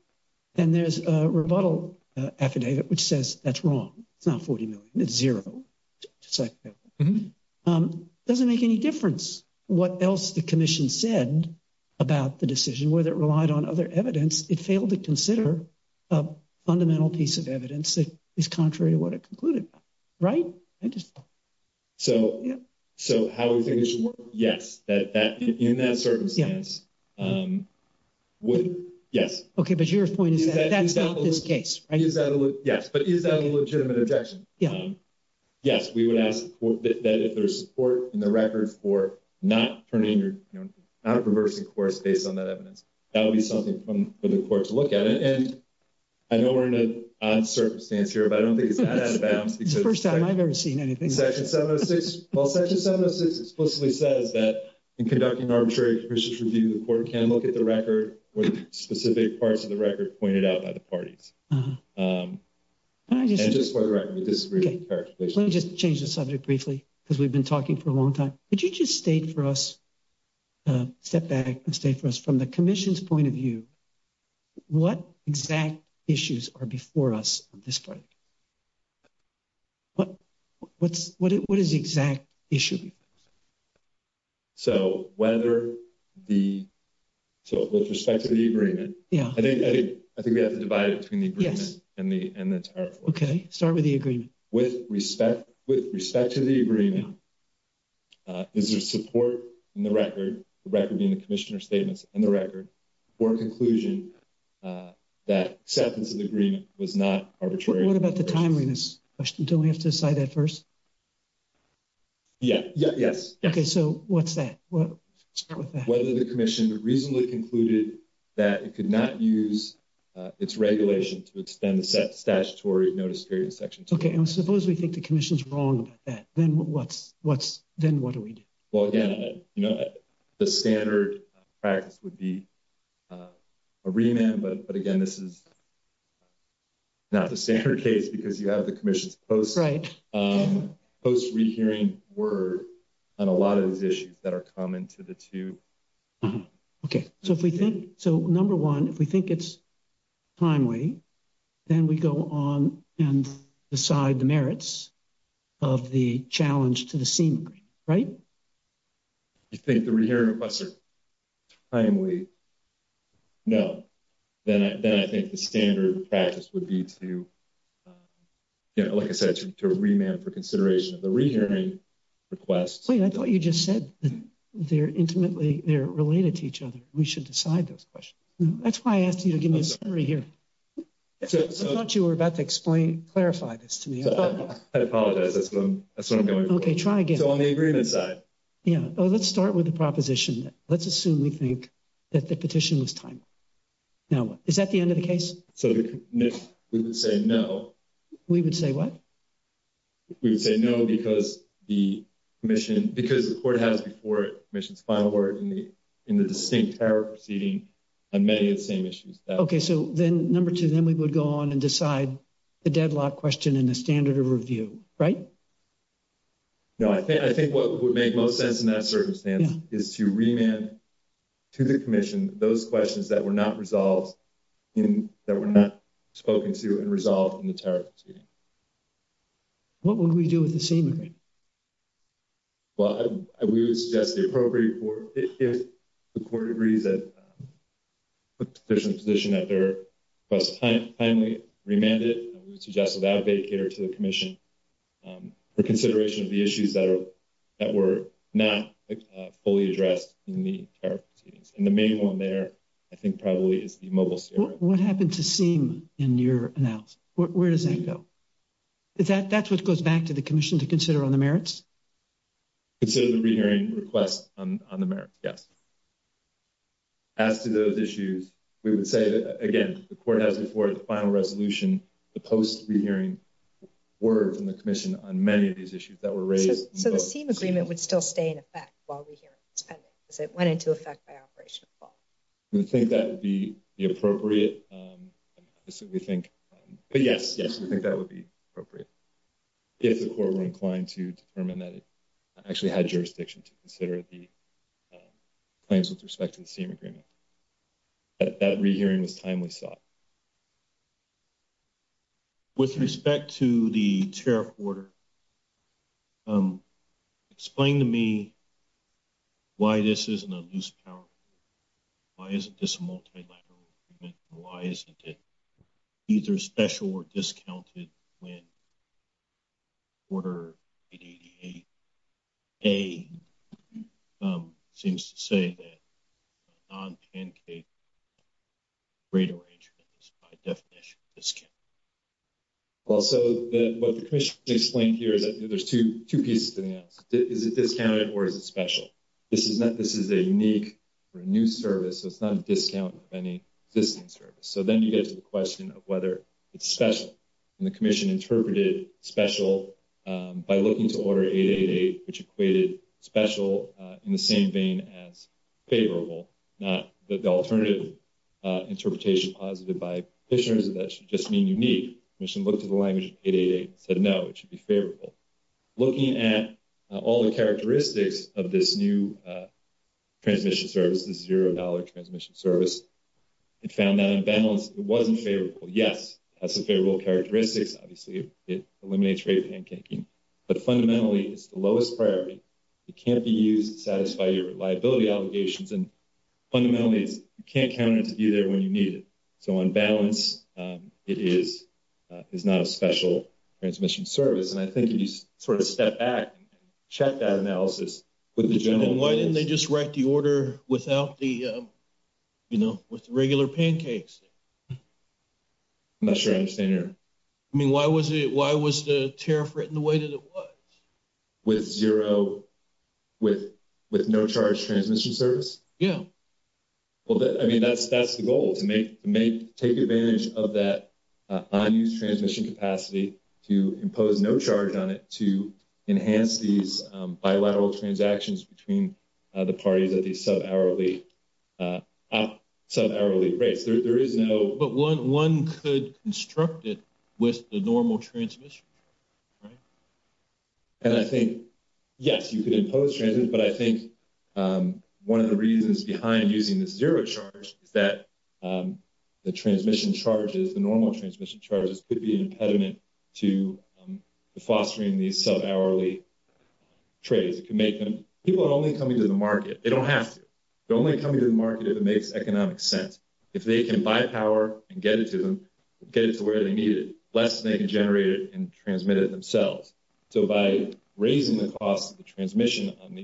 And there's a rebuttal affidavit, which says that's wrong. It's not $40 million, it's zero. Doesn't make any difference what else the commission said about the decision, whether it relied on other evidence, it failed to consider a fundamental piece of evidence that is contrary to what it concluded, right? So, how would the commission, yes, in that circumstance, yes. Okay, but your point is that's not the case, right? Yes, but is that a legitimate objection? Yes, we would ask that there's support in the record for not turning, not reversing course based on that evidence. That would be something for the courts to look at. And I know we're in an odd circumstance here, but I don't think it's out of bounds. It's the first time I've ever seen anything. Section 706 explicitly says that, in conducting arbitrary conditions review, the court can look at the record with specific parts of the record pointed out by the parties. Let me just change the subject briefly, because we've been talking for a long time. Could you just state for us, step back and state for us from the commission's point of view, what exact issues are before us at this point? What is the exact issue? So, whether the, so with respect to the agreement, I think we have to divide it between the agreement and the target. Okay, start with the agreement. With respect to the agreement, is there support in the record, the record being the commissioner's statements and the record, for a conclusion that acceptance of the agreement was not arbitrary? What about the timeliness question? Do we have to decide that first? Yeah, yes. Okay, so what's that? Whether the commission would reasonably concluded that it could not use its regulation to extend the statutory notice period section. Okay, and suppose we think the commission's wrong with that, then what's, then what do we do? Well, again, the standard practice would be a remand, but again, this is not the standard case because you have the commission's post-rehearing word on a lot of the issues that are common to the two. Okay, so if we think, so number one, if we think it's timely, then we go on and decide the merits of the challenge to the scene, right? You think the rehearing requests are timely? No, then I think the standard practice would be to, you know, like I said, to remand for consideration of the rehearing requests. I thought you just said they're intimately, they're related to each other. We should decide those questions. That's why I asked you to give me a summary here. I thought you were about to explain, clarify this to me. I apologize, that's not what I'm going for. Okay, try again. So on the agreement side. Yeah, oh, let's start with the proposition. Let's assume we think that the petition was timely. Now, is that the end of the case? So we would say no. We would say what? We would say no because the commission, because the court has before it, the commission's final word in the distinct tariff proceeding on many of the same issues. Okay, so then number two, then we would go on and decide the deadlock question in the standard of review, right? No, I think what would make most sense is to remand to the commission those questions that were not resolved in, that were not spoken to and resolved in the tariff proceeding. What would we do with the same agreement? Well, I would suggest the appropriate court, if the court agrees that the petition position that there was timely, remanded, I would suggest that they cater to the commission for consideration of the issues that were not fully addressed in the tariff proceedings. And the main one there, I think probably is the mobile survey. What happened to seeing in your analysis? Where does that go? That's what goes back to the commission to consider on the merits? Consider the rehearing request on the merits, yeah. As to those issues, we would say, again, the court has before it the final resolution, the post-rehearing word from the commission on many of these issues that were raised. So the same agreement would still stay in effect while we hear it, if it went into effect by operation? We think that would be the appropriate. But yes, yes, we think that would be appropriate. If the court were inclined to determine that it actually had jurisdiction to consider the claims with respect to the same agreement. That rehearing was timely thought. With respect to the tariff order, explain to me why this is an abuse of power? Why isn't this a multilateral agreement? Why isn't it either special or discounted when order 888A seems to say that non-Pancake is not a definition of discount? Also, what the commission explained here is that there's two pieces to that. Is it discounted or is it special? This is a unique or new service, so it's not a discount of any distant service. So then you get to the question of whether it's special. And the commission interpreted special by looking to order 888, which equated special in the same vein as favorable, not the alternative interpretation posited by petitioners that that should just mean unique. The commission looked at the language of 888, said no, it should be favorable. Looking at all the characteristics of this new transmission service, this $0 transmission service, it found that in balance it wasn't favorable. Yes, that's a favorable characteristic. Obviously, it eliminates rate pancaking. But fundamentally, it's the lowest priority. It can't be used to satisfy your liability obligations and fundamentally, you can't count on it to be there when you need it. So on balance, it is not a special transmission service. And I think you just sort of step back, check that analysis with the gentleman. Why didn't they just write the order without the, you know, with regular pancakes? I'm not sure I understand your... I mean, why was the tariff written the way that it was? With zero, with no charge transmission service? Yeah. Well, I mean, that's the goal, to take advantage of that unused transmission capacity to impose no charge on it to enhance these bilateral transactions between the parties at the sub hourly breaks. There is no... But one could construct it with the normal transmission, right? And I think, yes, you could impose transit, but I think one of the reasons behind using the zero charge is that the transmission charges, the normal transmission charges could be an impediment to fostering these sub hourly trades. It can make them... People are only coming to the market. They don't have to. They're only coming to the market that makes economic sense. If they can buy power and get it to them, get it to where they need it, less than they can generate it and transmit it themselves. So by raising the cost of the transmission on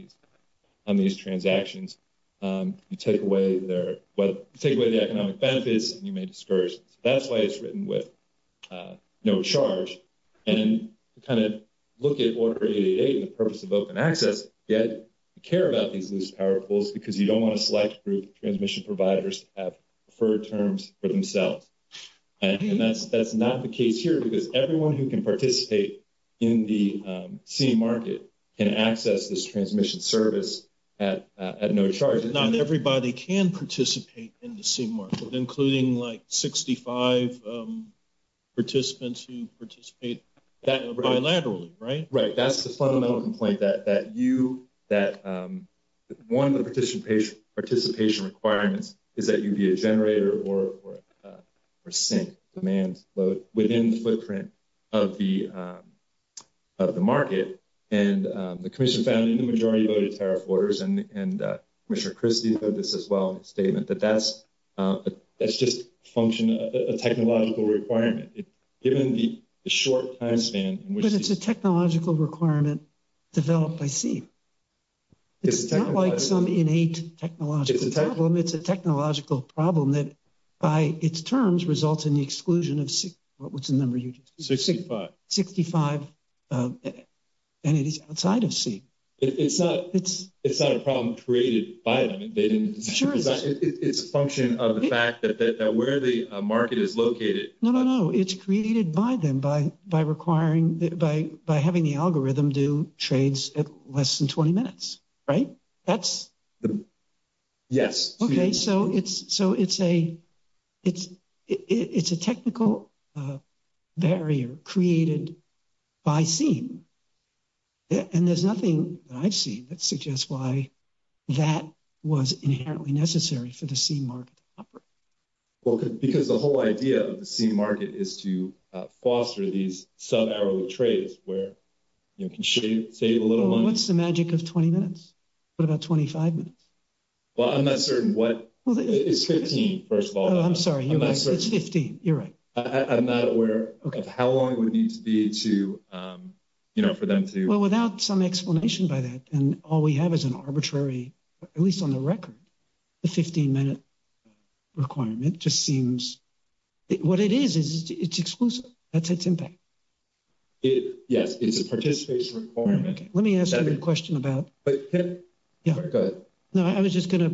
these transactions, you take away the economic benefits and you may disperse. That's why it's written with no charge. And to kind of look at Order 888, the purpose of open access, yet you care about these loose power poles because you don't want a select group of transmission providers to have preferred terms for themselves. And that's not the case here because everyone who can participate in the C market can access this transmission service at no charge. Not everybody can participate in the C market, including like 65 participants who participate bilaterally, right? Right. That's the fundamental complaint that you... One of the participation requirements is that you'd be a generator or a percent demand load within the footprint of the market. And the commission found in the majority of those tariff orders and Mr. Christie said this as well in his statement, that that's just a function, a technological requirement. It's given the short time span... But it's a technological requirement developed by C. It's not like some innate technological problem. It's a technological problem that by its terms results in the exclusion of C. What's the number you just said? 65. 65 entities outside of C. It's not a problem created by them. It's a function of the fact that where the market is located... No, no, no. It's created by them by having the algorithm do trades at less than 20 minutes, right? That's... Yes. Okay, so it's a technical barrier created by C. And there's nothing I've seen that suggests why that was inherently necessary for the C market to operate. Because the whole idea of the C market is to foster these sub-arrow trades where you can save a little money. What's the magic of 20 minutes? What about 25 minutes? Well, I'm not certain what... Well, it's 15, first of all. Oh, I'm sorry, it's 15. You're right. I'm not aware of how long it would need to be to, you know, for them to... Well, without some explanation by that, and all we have is an arbitrary, at least on the record, the 15-minute requirement just seems... What it is, is it's exclusive. That's its impact. Yes, it's a participatory requirement. Okay, let me ask you a question about... But Tim, go ahead. No, I was just gonna...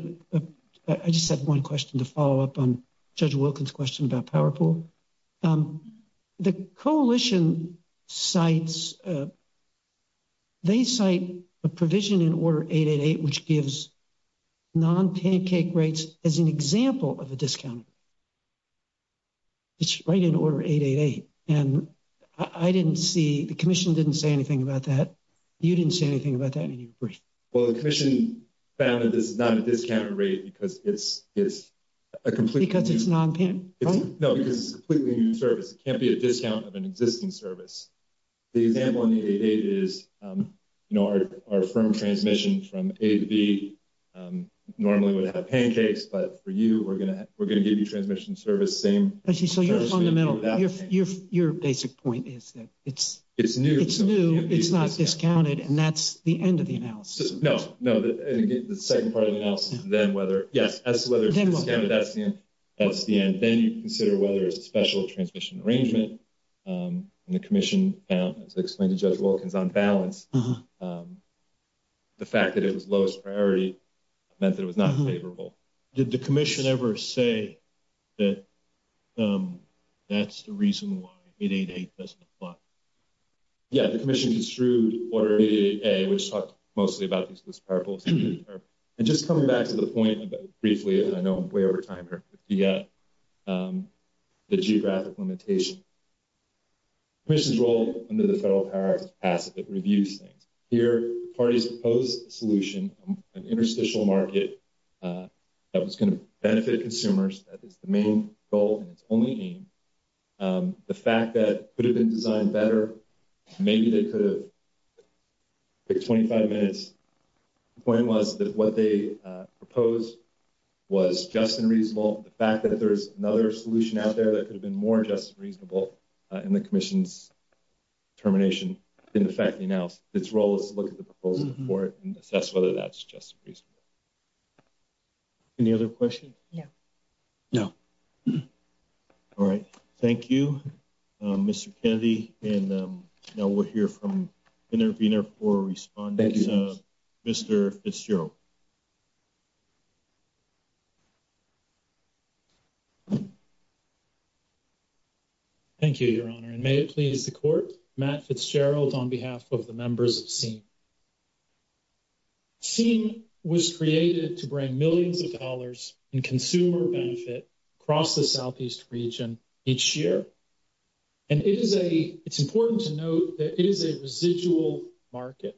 I just had one question to follow up on Judge Wilkins' question about PowerPool. The coalition cites... They cite a provision in Order 888 which gives non-pancake rates as an example of a discount. It's right in Order 888. And I didn't see... The commission didn't say anything about that. You didn't say anything about that. You need to read it. Well, the commission found that this is not a discount rate because it's a complete... Because it's non-pancake, right? No, because it's a completely new service. It can't be a discount of an existing service. The example in the 888 is, you know, our firm transmission from A to B normally would have pancakes, but for you, we're gonna give you transmission service the same... I see, so you're fundamental. Your basic point is that it's new, it's not discounted, and that's the end of the analysis. No, the second part of the analysis, then whether... Yeah, as to whether it's discounted, that's the end. Then you consider whether it's a special transmission arrangement. And the commission found, as I explained to Judge Wilkins, on balance, the fact that it was lowest priority meant that it was not favorable. Did the commission ever say that that's the reason why 888 doesn't apply? Yeah, the commission is through Order 888, which talks mostly about this purpose. And just coming back to the point briefly, as I know I'm way over time here, the geographic limitation. Commission's role under the federal power is passive, it reviews things. Here, the parties proposed a solution, an interstitial market that was gonna benefit consumers. That is the main goal and only aim. The fact that it could have been designed better, maybe they could have... The 25-minute point was that what they proposed was just and reasonable. The fact that there's another solution out there that could have been more just and reasonable in the commission's determination didn't affect enough. Its role is to look at the proposal before it and assess whether that's just and reasonable. Any other questions? No. No. All right. Thank you, Mr. Kennedy. And now we'll hear from intervener for response, Mr. Fitzgerald. Thank you, Your Honor. And may it please the court, Matt Fitzgerald on behalf of the members of SEEM. SEEM was created to bring millions of dollars in consumer benefit across the Southeast region each year. And it's important to note that it is a residual market.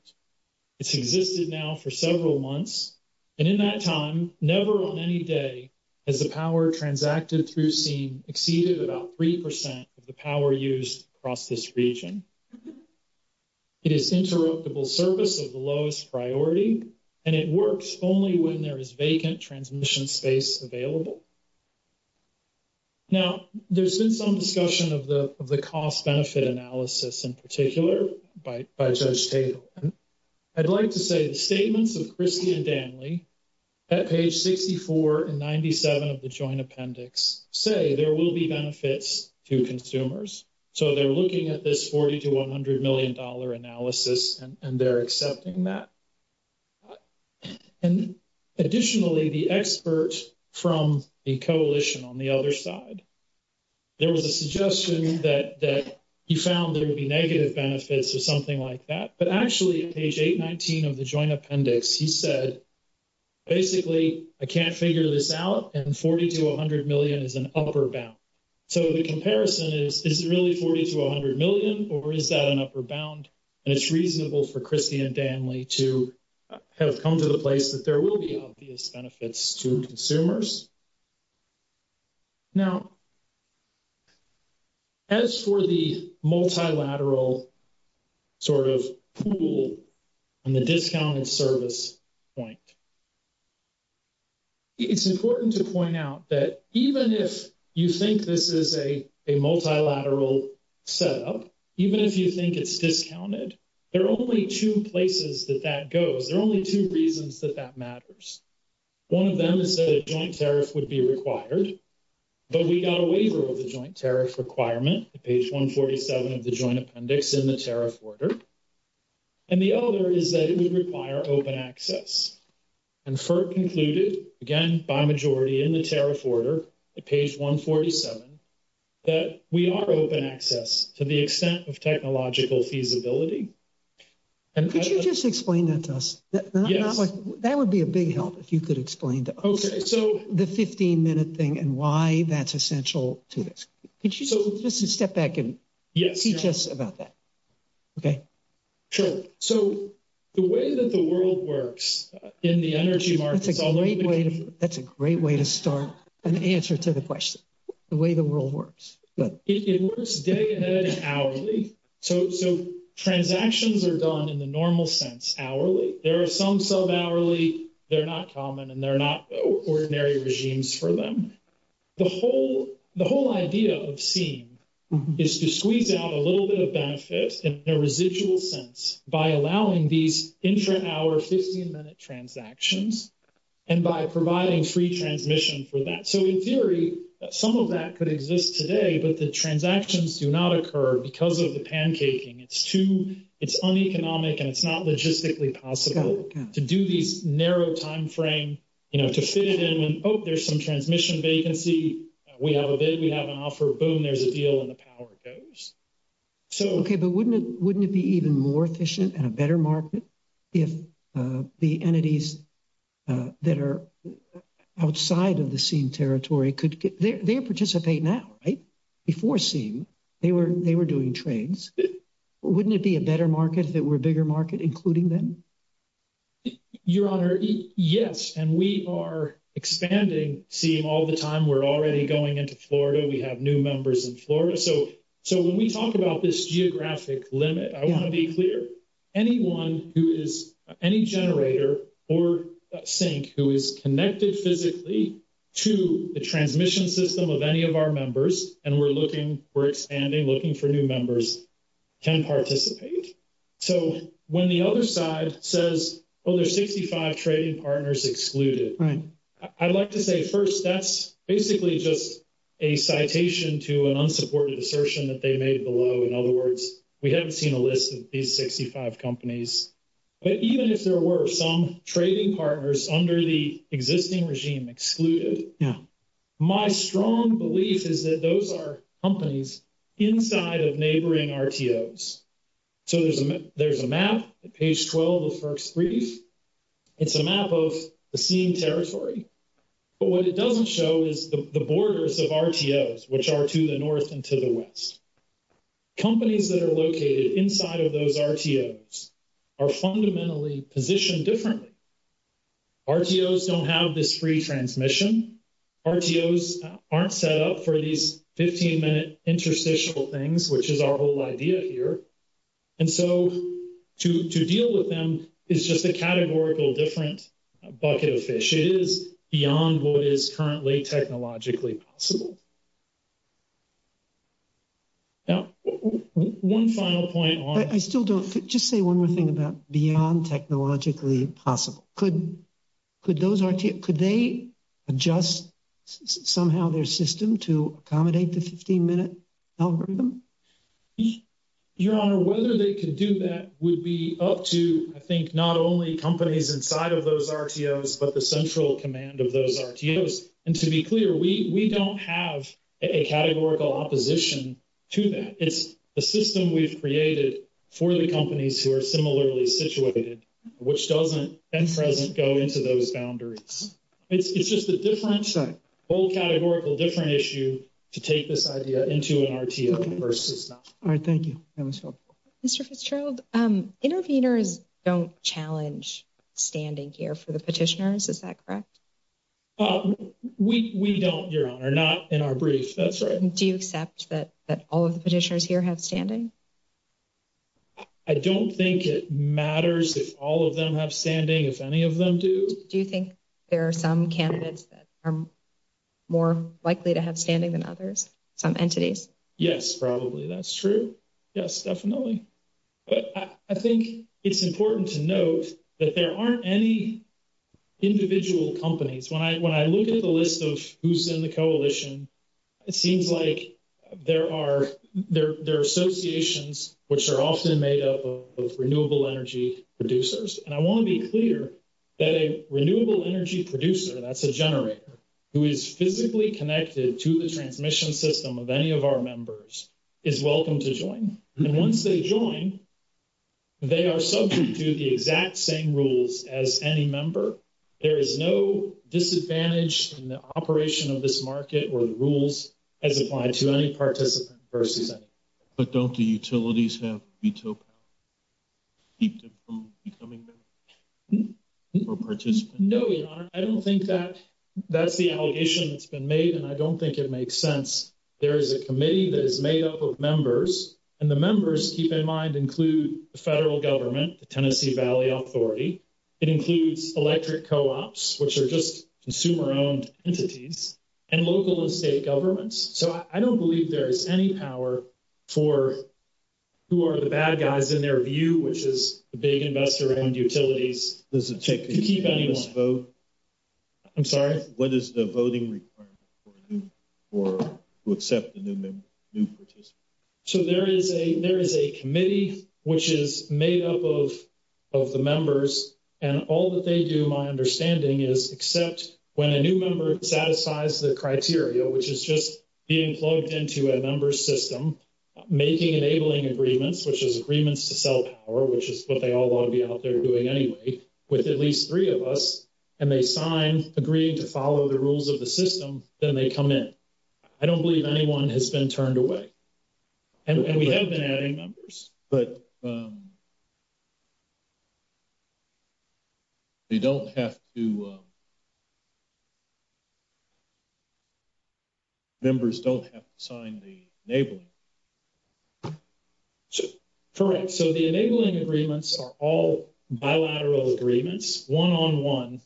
It's existed now for several months. And in that time, never on any day has the power transacted through SEEM exceeded about 3% of the power used across this region. It is interoperable service of the lowest priority. And it works only when there is vacant transmission space available. Now, there's been some discussion of the cost-benefit analysis in particular by Judge Cato. I'd like to say the statements of Christie and Danley at page 64 and 97 of the joint appendix say there will be benefits to consumers. So they're looking at this $40 to $100 million analysis and they're accepting that. And additionally, the experts from the coalition on the other side, there was a suggestion that he found there would be negative benefits to something like that. But actually at page 819 of the joint appendix, he said, basically, I can't figure this out. And $40 to $100 million is an upper bound. So the comparison is, is it really $40 to $100 million or is that an upper bound? And it's reasonable for Christie and Danley to kind of come to the place that there will be obvious benefits to consumers. Now, as for the multilateral sort of pool and the discounted service point, it's important to point out that even if you think this is a multilateral setup, even if you think it's discounted, there are only two places that that goes. There are only two reasons that that matters. One of them is that a joint tariff would be required, but we got a waiver of the joint tariff requirement, page 147 of the joint appendix in the tariff order. And the other is that it would require open access. And FERC concluded, again, by majority in the tariff order, at page 147, that we are open access to the extent of technological feasibility. And could you just explain that to us? That would be a big help if you could explain the 15 minute thing and why that's essential to this. Could you just step back and teach us about that? Okay. Sure. So the way that the world works in the energy market... That's a great way to start an answer to the question, the way the world works. It works day and hourly. So transactions are done in the normal sense, hourly. There are some sub-hourly. They're not common and they're not ordinary regimes for them. The whole idea of the scheme is to squeeze out a little bit of benefit in a residual sense by allowing these intra-hour 15 minute transactions and by providing free transmission for that. So in theory, some of that could exist today, but the transactions do not occur because of the pancaking. It's too, it's uneconomic and it's not logistically possible to do these narrow timeframe, you know, to fit it in and, oh, there's some transmission vacancy. We have a bid, we have an offer, boom, there's a deal and the power goes. Okay, but wouldn't it be even more efficient and a better market if the entities that are outside of the SIEM territory could, they participate now, right? Before SIEM, they were doing trades. Wouldn't it be a better market if there were a bigger market including them? Your Honor, yes. And we are expanding SIEM all the time. We're already going into Florida. We have new members in Florida. So when we talk about this geographic limit, I want to be clear, anyone who is, any generator or sink who is connected physically to the transmission system of any of our members and we're looking, we're expanding, looking for new members can participate. So when the other side says, oh, there's 65 trading partners excluded. I'd like to say first, that's basically just a citation to an unsupported assertion that they made below. In other words, we haven't seen a list of these 65 companies. But even if there were some trading partners under the existing regime excluded, my strong belief is that those are companies inside of neighboring RTOs. So there's a map at page 12 of the first three. It's a map of the SIEM territory. But what it doesn't show is the borders of RTOs which are to the north and to the west. Companies that are located inside of those RTOs are fundamentally positioned differently. RTOs don't have this free transmission. RTOs aren't set up for these 15 minute interstitial things, which is our whole idea here. And so to deal with them is just a categorical different bucket of fish. It is beyond what is currently technologically possible. Now, one final point on- I still don't, just say one more thing about beyond technologically possible. Could those RTOs- Could they adjust somehow their system to accommodate the 15 minute algorithm? Your Honor, whether they can do that would be up to, I think, not only companies inside of those RTOs, but the central command of those RTOs. And to be clear, we don't have a categorical opposition to that. It's the system we've created for the companies who are similarly situated, which doesn't, and doesn't go into those boundaries. It's just a different, both categorical, different issue to take this idea into an RTO versus not. All right, thank you. Mr. Fitzgerald, intervenors don't challenge standing here for the petitioners. Is that correct? We don't, Your Honor. Not in our briefs. That's right. Do you accept that all of the petitioners here have standing? I don't think it matters if all of them have standing, if any of them do. Do you think there are some candidates that are more likely to have standing than others, some entities? Yes, probably. That's true. Yes, definitely. But I think it's important to note that there aren't any individual companies. When I look at the list of who's in the coalition, it seems like there are, there are associations which are often made up of renewable energy producers. And I want to be clear that a renewable energy producer, that's a generator, who is physically connected to the transmission system of any of our members, is welcome to join. And once they join, they are subject to the exact same rules as any member. There is no disadvantage in the operation of this market where the rules as applied to any participant versus others. But don't the utilities have veto power to keep them from becoming members or participants? No, Your Honor. I don't think that's the allegation that's been made, and I don't think it makes sense. There is a committee that is made up of members, and the members, keep in mind, include the federal government, the Tennessee Valley Authority. It includes electric co-ops, which are just consumer-owned entities, and local and state governments. So I don't believe there is any power for who are the bad guys in their view, which is the big investor and utilities. Does it take the unanimous vote? I'm sorry? What is the voting requirement for who accept the new participant? So there is a committee which is made up of the members, and all that they do, my understanding is, accept when a new member satisfies the criteria, which is just being plugged into a member system, making enabling agreements, which is agreements to sell power, which is what they all ought to be out there doing anyway, with at least three of us, and they sign agreeing to follow the rules of the system, then they come in. I don't believe anyone has been turned away. And we have been adding members, but they don't have to sign the enabling. Correct. So the enabling agreements are all bilateral agreements, one-on-one.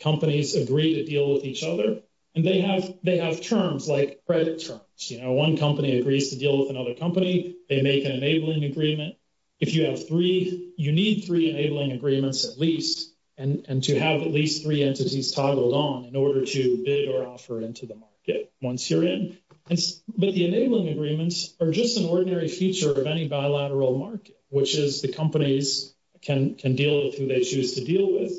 Companies agree to deal with each other, and they have terms like credit terms. One company agrees to deal with another company, they make an enabling agreement. If you have three, you need three enabling agreements at least, and to have at least three entities toggled on in order to bid or offer into the market once you're in. But the enabling agreements are just an ordinary feature of any bilateral market, which is the companies can deal with who they choose to deal with.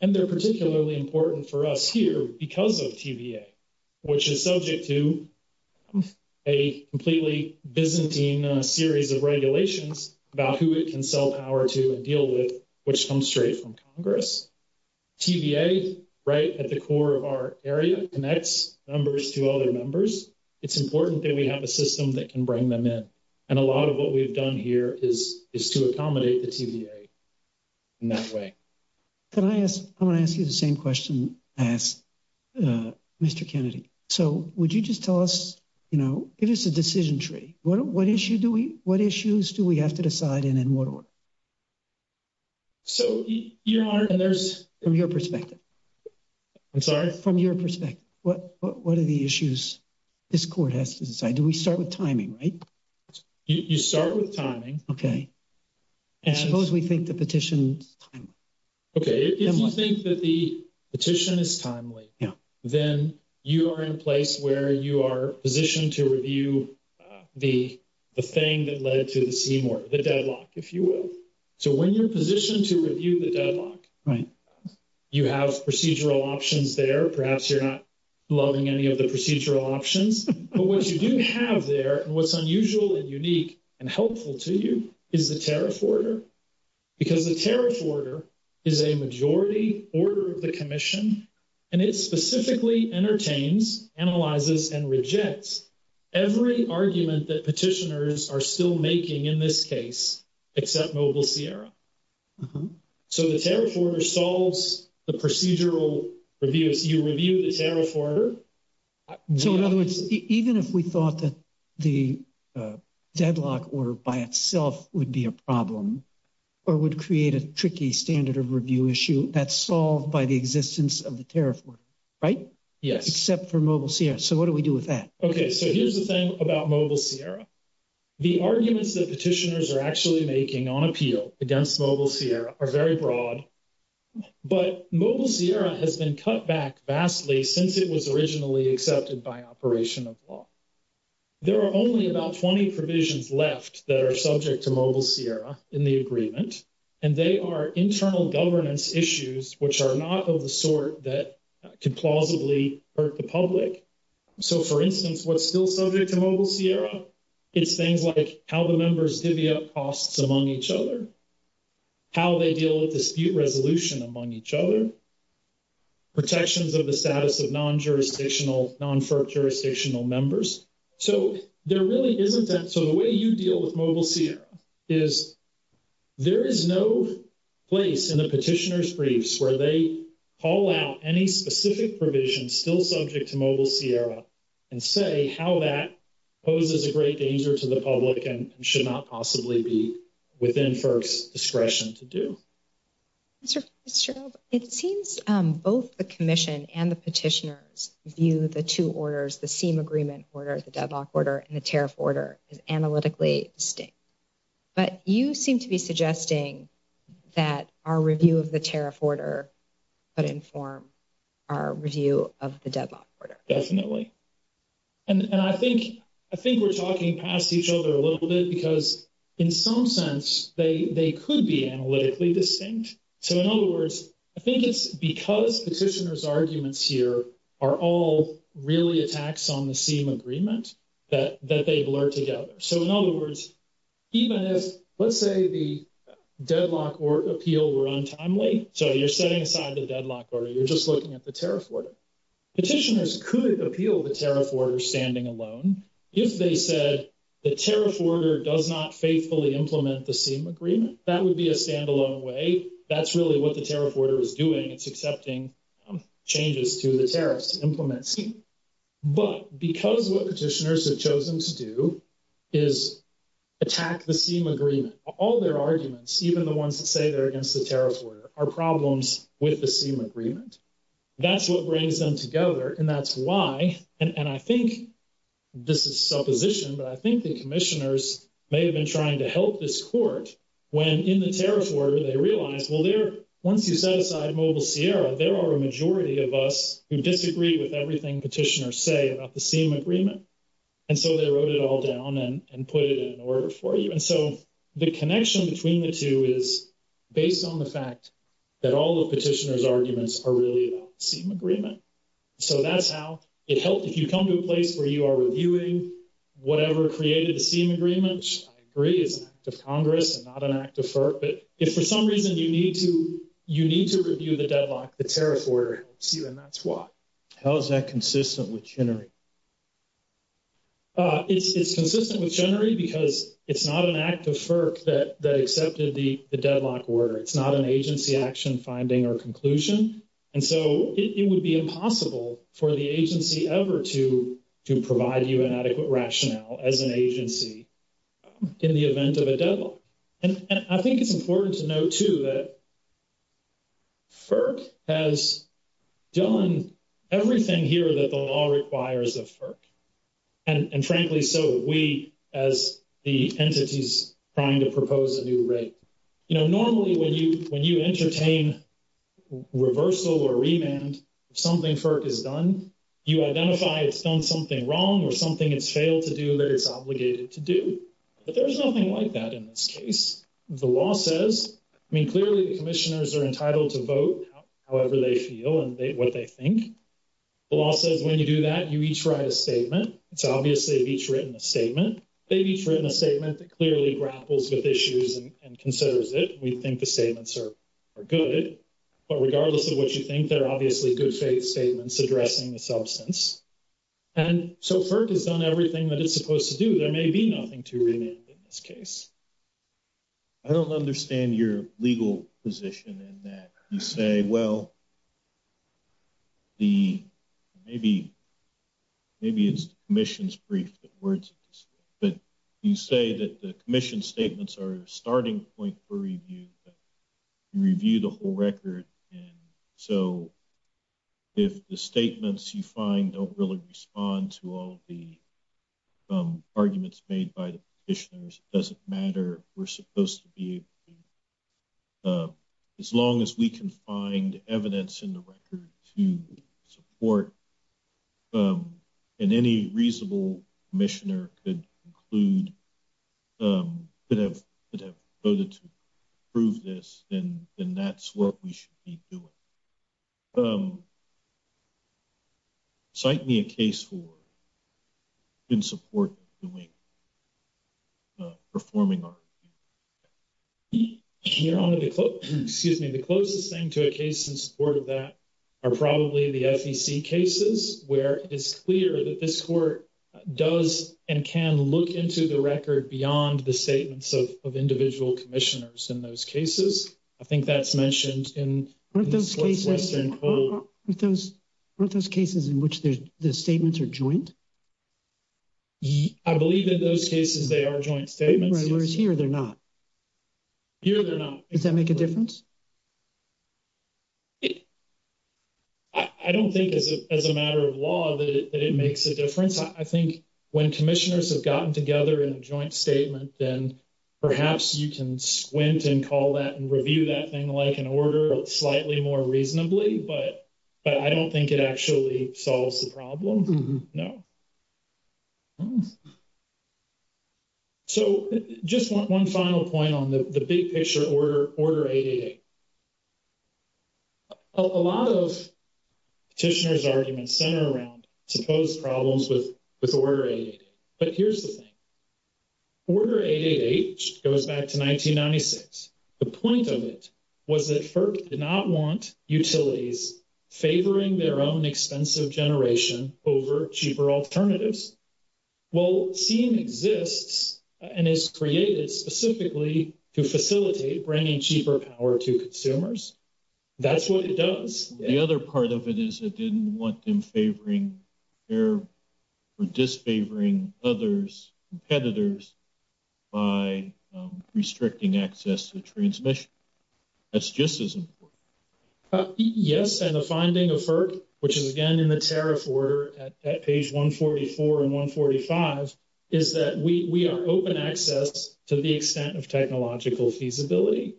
And they're particularly important for us here because of QBA, which is subject to a completely Byzantine series of regulations about who we can sell power to and deal with, which comes straight from Congress. TVA, right at the core of our area, connects numbers to other members. It's important that we have a system that can bring them in. And a lot of what we've done here is to accommodate the TVA in that way. Can I ask, I want to ask you the same question I asked Mr. Kennedy. So would you just tell us, you know, give us a decision tree. What issue do we, what issues do we have to decide in in Waterloo? So, Your Honor, and there's... From your perspective. I'm sorry? From your perspective. What are the issues this court has to decide? Do we start with timing, right? You start with timing. Okay. And suppose we think the petition is timely. Okay, if you think that the petition is timely, then you are in place where you are positioned to review the thing that led to the Seymour, the deadlock, if you will. So when you're positioned to review the deadlock, you have procedural options there. Perhaps you're not loving any of the procedural options. But what you do have there, and what's unusual and unique and helpful to you, is the tariff order. Because the tariff order is a majority order of the commission. And it specifically entertains, analyzes, and rejects every argument that petitioners are still making in this case, except Mobile Sierra. So the tariff order solves the procedural review. You review the tariff order. So in other words, even if we thought that the deadlock order by itself would be a problem, or would create a tricky standard of review issue, that's solved by the existence of the tariff order, right? Yes. Except for Mobile Sierra. So what do we do with that? Okay, so here's the thing about Mobile Sierra. The arguments that petitioners are actually making on appeal against Mobile Sierra are very broad. But Mobile Sierra has been cut back vastly since it was originally accepted by operation of law. There are only about 20 provisions left that are subject to Mobile Sierra in the agreement. And they are internal governance issues, which are not of the sort that could plausibly hurt the public. So for instance, what's still subject to Mobile Sierra is things like how the members divvy up costs among each other, how they deal with dispute resolution among each other, protections of the status of non-jurisdictional, non-for-jurisdictional members. So there really isn't that. So the way you deal with Mobile Sierra is there is no place in the petitioner's briefs where they call out any specific provision still subject to Mobile Sierra and say how that poses a great danger to the public and should not possibly be within FERC's discretion to do. Mr. Fitzgerald, it seems both the commission and the petitioners view the two orders, the same agreement order, the deadlock order and the tariff order is analytically distinct. that our review of the tariff order would inform our review of the deadlock order. Definitely. And I think we're talking past each other a little bit because in some sense, they could be analytically distinct. So in other words, I think it's because petitioners' arguments here are all really attacks on the same agreement that they've learned together. So in other words, even if let's say the deadlock or appeal were untimely, so you're setting aside the deadlock order, you're just looking at the tariff order. Petitioners could appeal the tariff order standing alone if they said the tariff order does not faithfully implement the same agreement. That would be a standalone way. That's really what the tariff order is doing. It's accepting changes to the tariffs to implement. But because what petitioners have chosen to do is attack the same agreement, all their arguments, even the ones that say they're against the tariff order are problems with the same agreement. That's what brings them together. And that's why, and I think this is supposition, but I think the commissioners may have been trying to help this court when in the tariff order they realized, well, once you set aside Mobile Sierra, there are a majority of us who disagree with everything petitioners say about the same agreement. And so they wrote it all down and put it in order for you. And so the connection between the two is based on the fact that all the petitioners' arguments are really about the same agreement. So that's how it helps if you come to a place where you are reviewing whatever created the same agreement, which I agree is an act of Congress and not an act of FERC, but if for some reason you need to review the deadlock, the tariff order helps you, and that's why. How is that consistent with Chenery? It's consistent with Chenery because it's not an act of FERC that accepted the deadlock order. It's not an agency action finding or conclusion. And so it would be impossible for the agency ever to provide you an adequate rationale as an agency in the event of a deadlock. And I think it's important to note too that FERC has done everything here that the law requires of FERC. And frankly, so we, as the entities trying to propose a new rate. You know, normally when you entertain reversal or remand, something FERC has done, you identify it's done something wrong or something it's failed to do that it's obligated to do. But there's nothing like that in this case. The law says, I mean, clearly the commissioners are entitled to vote however they feel and what they think. The law says when you do that, you each write a statement. It's obvious they've each written a statement. They've each written a statement that clearly grapples with issues and considers it. We think the statements are good, but regardless of what you think, they're obviously good statements addressing the substance. And so FERC has done everything that it's supposed to do. There may be nothing to remand in this case. I don't understand your legal position in that. You say, well, the maybe, maybe it's commission's brief that words, but you say that the commission statements are starting point for review. You review the whole record. And so if the statements you find don't really respond to all the arguments made by the commissioners, it doesn't matter. We're supposed to be able to. As long as we can find evidence in the record to support and any reasonable commissioner could include, could have voted to prove this, then that's what we should be doing. Cite me a case for, in support of the way performing our review. The closest thing to a case in support of that are probably the SEC cases, where it's clear that this court does and can look into the record beyond the statements of individual commissioners. In those cases, I think that's mentioned in those cases, in which the statements are joint. I believe that those cases, they are joint statements here. They're not here. They're not. Does that make a difference? I don't think as a matter of law, that it makes a difference. I think when commissioners have gotten together in a joint statement, then perhaps you can squint and call that and review that thing like an order slightly more reasonably, but I don't think it actually solves the problem. So just one final point on the big picture order 88. A lot of petitioners are in the center around supposed problems with order 88. But here's the thing. Order 88H goes back to 1996. The point of it was that FERC did not want utilities favoring their own expensive generation over cheaper alternatives. Well, seeing exists and is created specifically to facilitate bringing cheaper power to consumers. That's what it does. The other part of it is it didn't want them favoring or disfavoring others' competitors by restricting access to transmission. That's just as important. Yes, and the finding of FERC, which is again in the tariff order at page 144 and 145, is that we are open access to the extent of technological feasibility.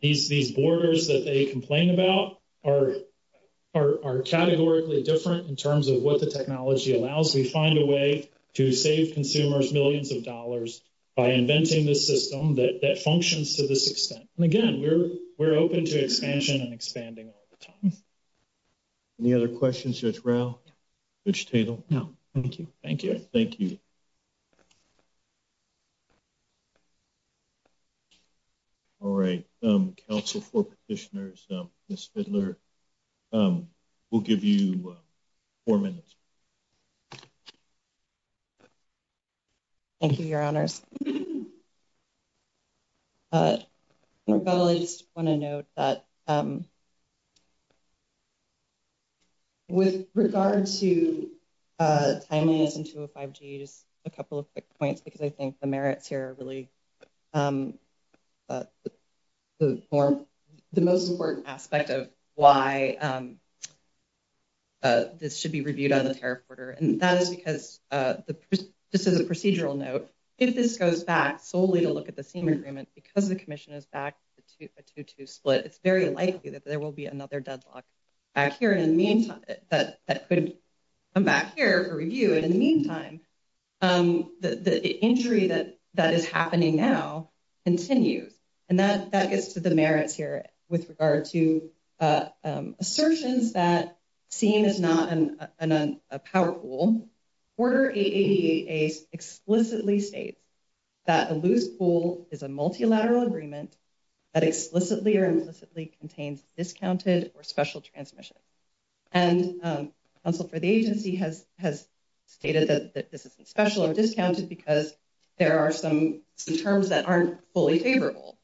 These borders that they complain about are categorically different in terms of what the technology allows. We find a way to save consumers millions of dollars by inventing this system that functions to this extent. Again, we're open to expansion and expanding all the time. Any other questions here, Ralph? No, thank you. Thank you. Thank you. All right, Council for Petitioners, Ms. Fidler, we'll give you four minutes. Thank you, Your Honors. I just want to note that with regard to timing it into a 5G, just a couple of quick points because I think the merits here are really the most important aspect of why this should be reviewed on the tariff order. And that is because this is a procedural note. If this goes back solely to look at the same agreement because the commission is back to a 2-2 split, it's very likely that there will be another deadlock back here in the meantime, but that could come back here for review in the meantime. The injury that is happening now continues and that gets to the merits here with regard to assertions that seeing is not a power pool. Order 8888 explicitly states that a loose pool is a multilateral agreement that explicitly or implicitly contains discounted or special transmission. And the agency has stated that this is a special or discounted because there are some terms that aren't fully favorable.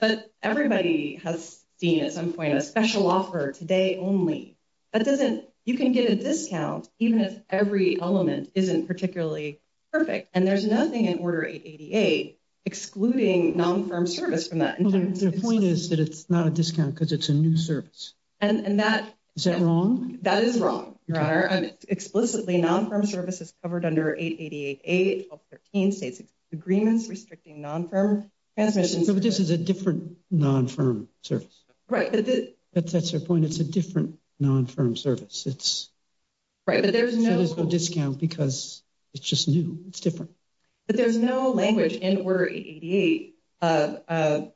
But everybody has seen at some point a special offer today only. That doesn't, you can get a discount even if every element isn't particularly perfect. And there's nothing in order 8888 excluding non-firm service from that. The point is that it's not a discount because it's a new service. And that's wrong. That is wrong. Explicitly non-firm service is covered under 8888, 1213 states agreements restricting non-firm transmission. But this is a different non-firm service. Right. That's your point. It's a different non-firm service. It's a discount because it's just new. It's different. But there's no language in order 8888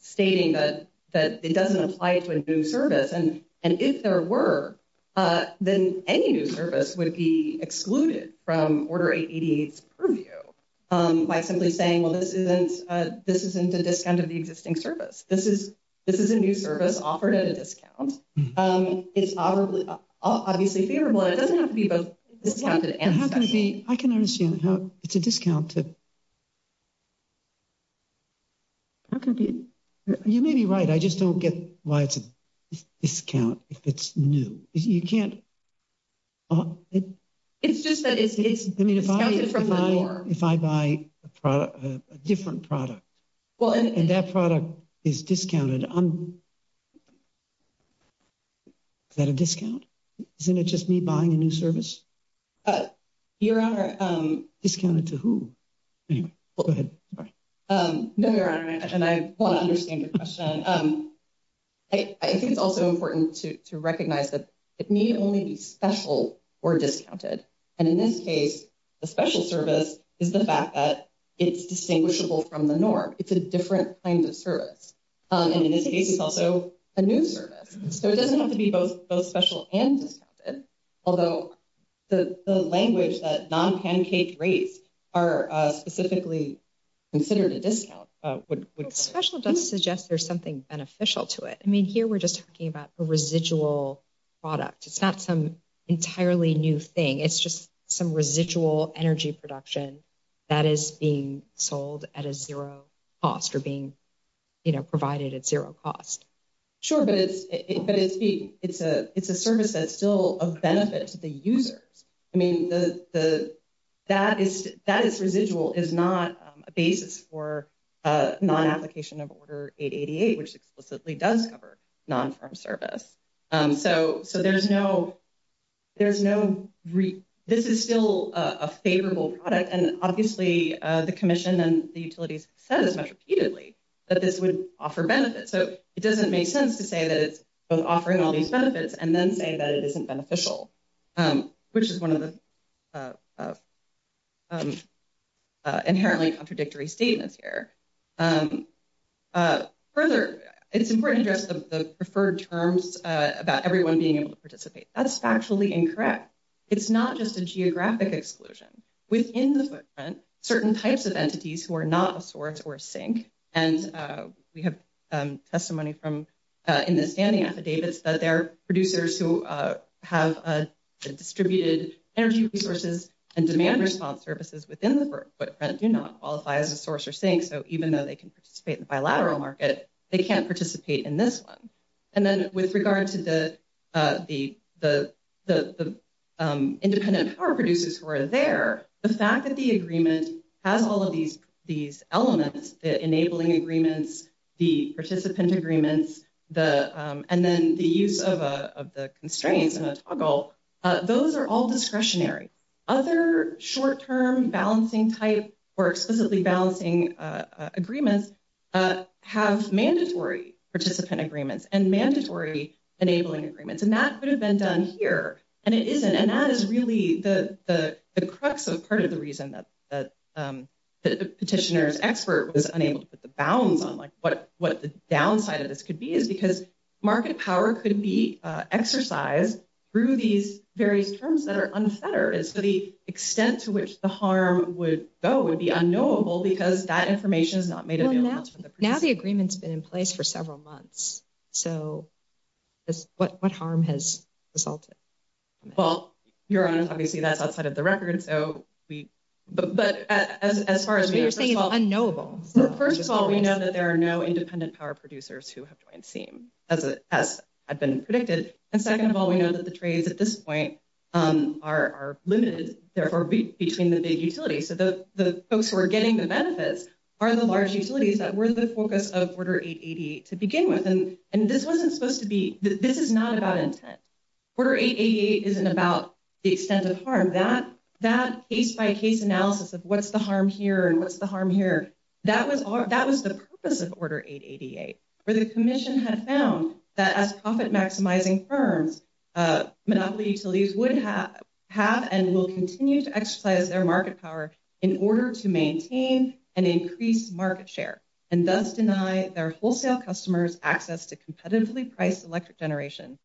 stating that it doesn't apply to a new service. And if there were, then any new service would be excluded from order 8888's purview by simply saying, this isn't a discount of the existing service. This is a new service offered at a discount. It's obviously favorable. It doesn't have to be both. I can understand how it's a discount. You may be right. I just don't get why it's a discount if it's new. You can't. It's just that it's from the norm. If I buy a product, a different product, and that product is discounted. Is that a discount? Isn't it just me buying a new service? Your Honor. Discounted to who? No, Your Honor, and I want to understand your question. I think it's also important to recognize that it needs to only be special or discounted. And in this case, the special service is the fact that it's distinguishable from the norm. It's a different kind of service. And in this case, it's also a new service. So it doesn't have to be both special and discounted. Although the language that non-pancake rates are specifically considered a discount. Special doesn't suggest there's something beneficial to it. I mean, here we're just talking about the residual product. It's not some entirely new thing. It's just some residual energy production that is being sold at a zero cost or being provided at zero cost. Sure, but it's a service that's still a benefit to the user. I mean, that is residual is not a basis for non-application of Order 888, which explicitly does cover non-firm service. So there's no, there's no, this is still a favorable product. And obviously the commission and the utilities said this much repeatedly, that this would offer benefits. So it doesn't make sense to say that it's both offering all these benefits and then say that it isn't beneficial, which is one of the inherently contradictory statements here. Further, it's important to address the preferred terms about everyone being able to participate. That's factually incorrect. It's not just a geographic exclusion. Within the footprint, certain types of entities who are not a source or a sink, and we have testimony from in the standing affidavits that there are producers who have distributed energy resources and demand response services within the footprint do not qualify as a source or sink. So even though they can participate in the bilateral market, they can't participate in this one. And then with regard to the, independent power producers who are there, the fact that the agreement has all of these elements, enabling agreements, the participant agreements, and then the use of the constraints and the struggle, those are all discretionary. Other short-term balancing type or explicitly balancing agreements have mandatory participant agreements and mandatory enabling agreements. And that could have been done here. And it isn't. And that is really the crux of part of the reason that the petitioner's expert was unable to put the bounds on what the downside of this could be is because market power could be exercised through these very terms that are unfettered. So the extent to which the harm would go would be unknowable because that information is not made available. Now the agreement's been in place for several months. So what harm has resulted? Well, Your Honor, obviously that's outside of the record. So we, but as far as- What do you mean unknowable? First of all, we know that there are no independent power producers who have joined the team as has been predicted. And second of all, we know that the trades at this point are limited therefore between the big utilities. So the folks who are getting the benefits are the large utilities that were the focus of Order 888 to begin with. And this wasn't supposed to be, this is not about intent. Order 888 isn't about the extent of harm. That case-by-case analysis of what's the harm here and what's the harm here, that was the purpose of Order 888 where the commission had found that as profit-maximizing firms, monopoly utilities would have and will continue to exercise their market power in order to maintain an increased market share and thus deny their wholesale customers access to competitively priced electric generation.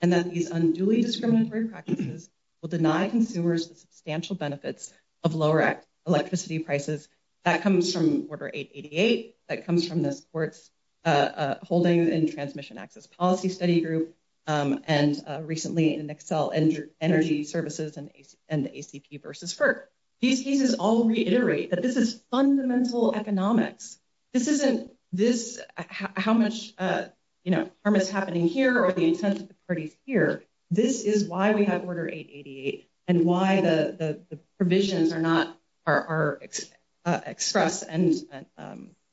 And that these unduly discriminatory practices will deny consumers substantial benefits of lower electricity prices. That comes from Order 888, that comes from the sports holding and transmission access policy study group and recently in Excel and energy services and the ACP versus FERC. These cases all reiterate that this is fundamental economics. This isn't this, how much harm is happening here or the intent of the parties here. This is why we have Order 888 and why the provisions are not, are expressed and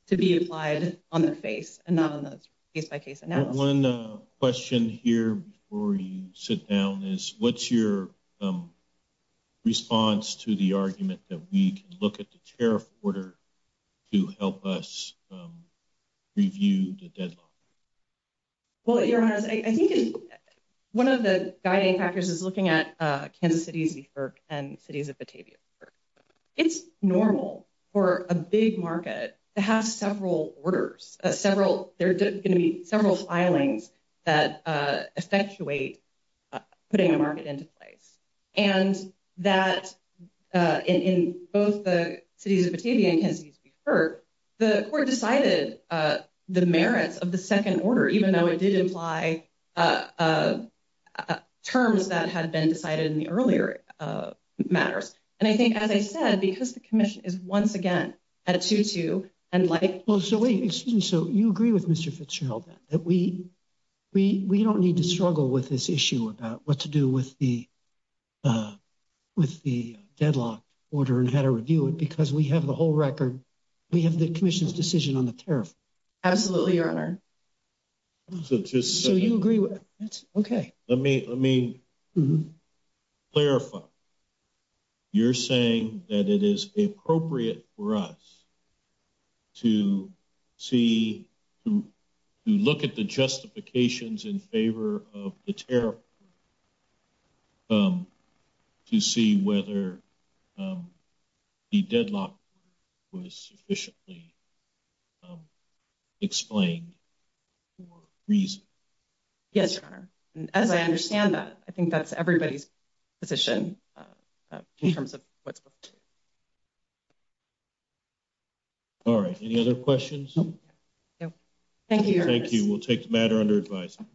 to be applied on the face and not on the case-by-case analysis. One question here before you sit down is what's your response to the argument that we can look at the tariff order to help us review the deadline? Well, your honor, I think one of the guiding factors is looking at Kansas City v. FERC and cities of Batavia v. FERC. It's normal for a big market to have several orders, several, there are going to be several filings that effectuate putting a market into place and that in both the cities of Batavia and Kansas City v. FERC, the court decided the merits of the second order, even though it did imply terms that had been decided in the earlier matters. And I think, as I said, because the commission is once again at a 2-2 and like... Well, so wait, excuse me. So you agree with Mr. Fitzgerald that we don't need to struggle with this issue about what to do with the deadlock order and how to review it because we have the whole record. We have the commission's decision on the tariff. Absolutely, Your Honor. So you agree with it? Okay. Let me clarify. You're saying that it is appropriate for us to see, to look at the justifications in favor of the tariff to see whether the deadlock was sufficiently explained or reasoned? Yes, Your Honor. And as I understand that, I think that's everybody's position in terms of what to look at. All right. Any other questions? No. Thank you, Your Honor. Thank you. We'll take the matter under advisement.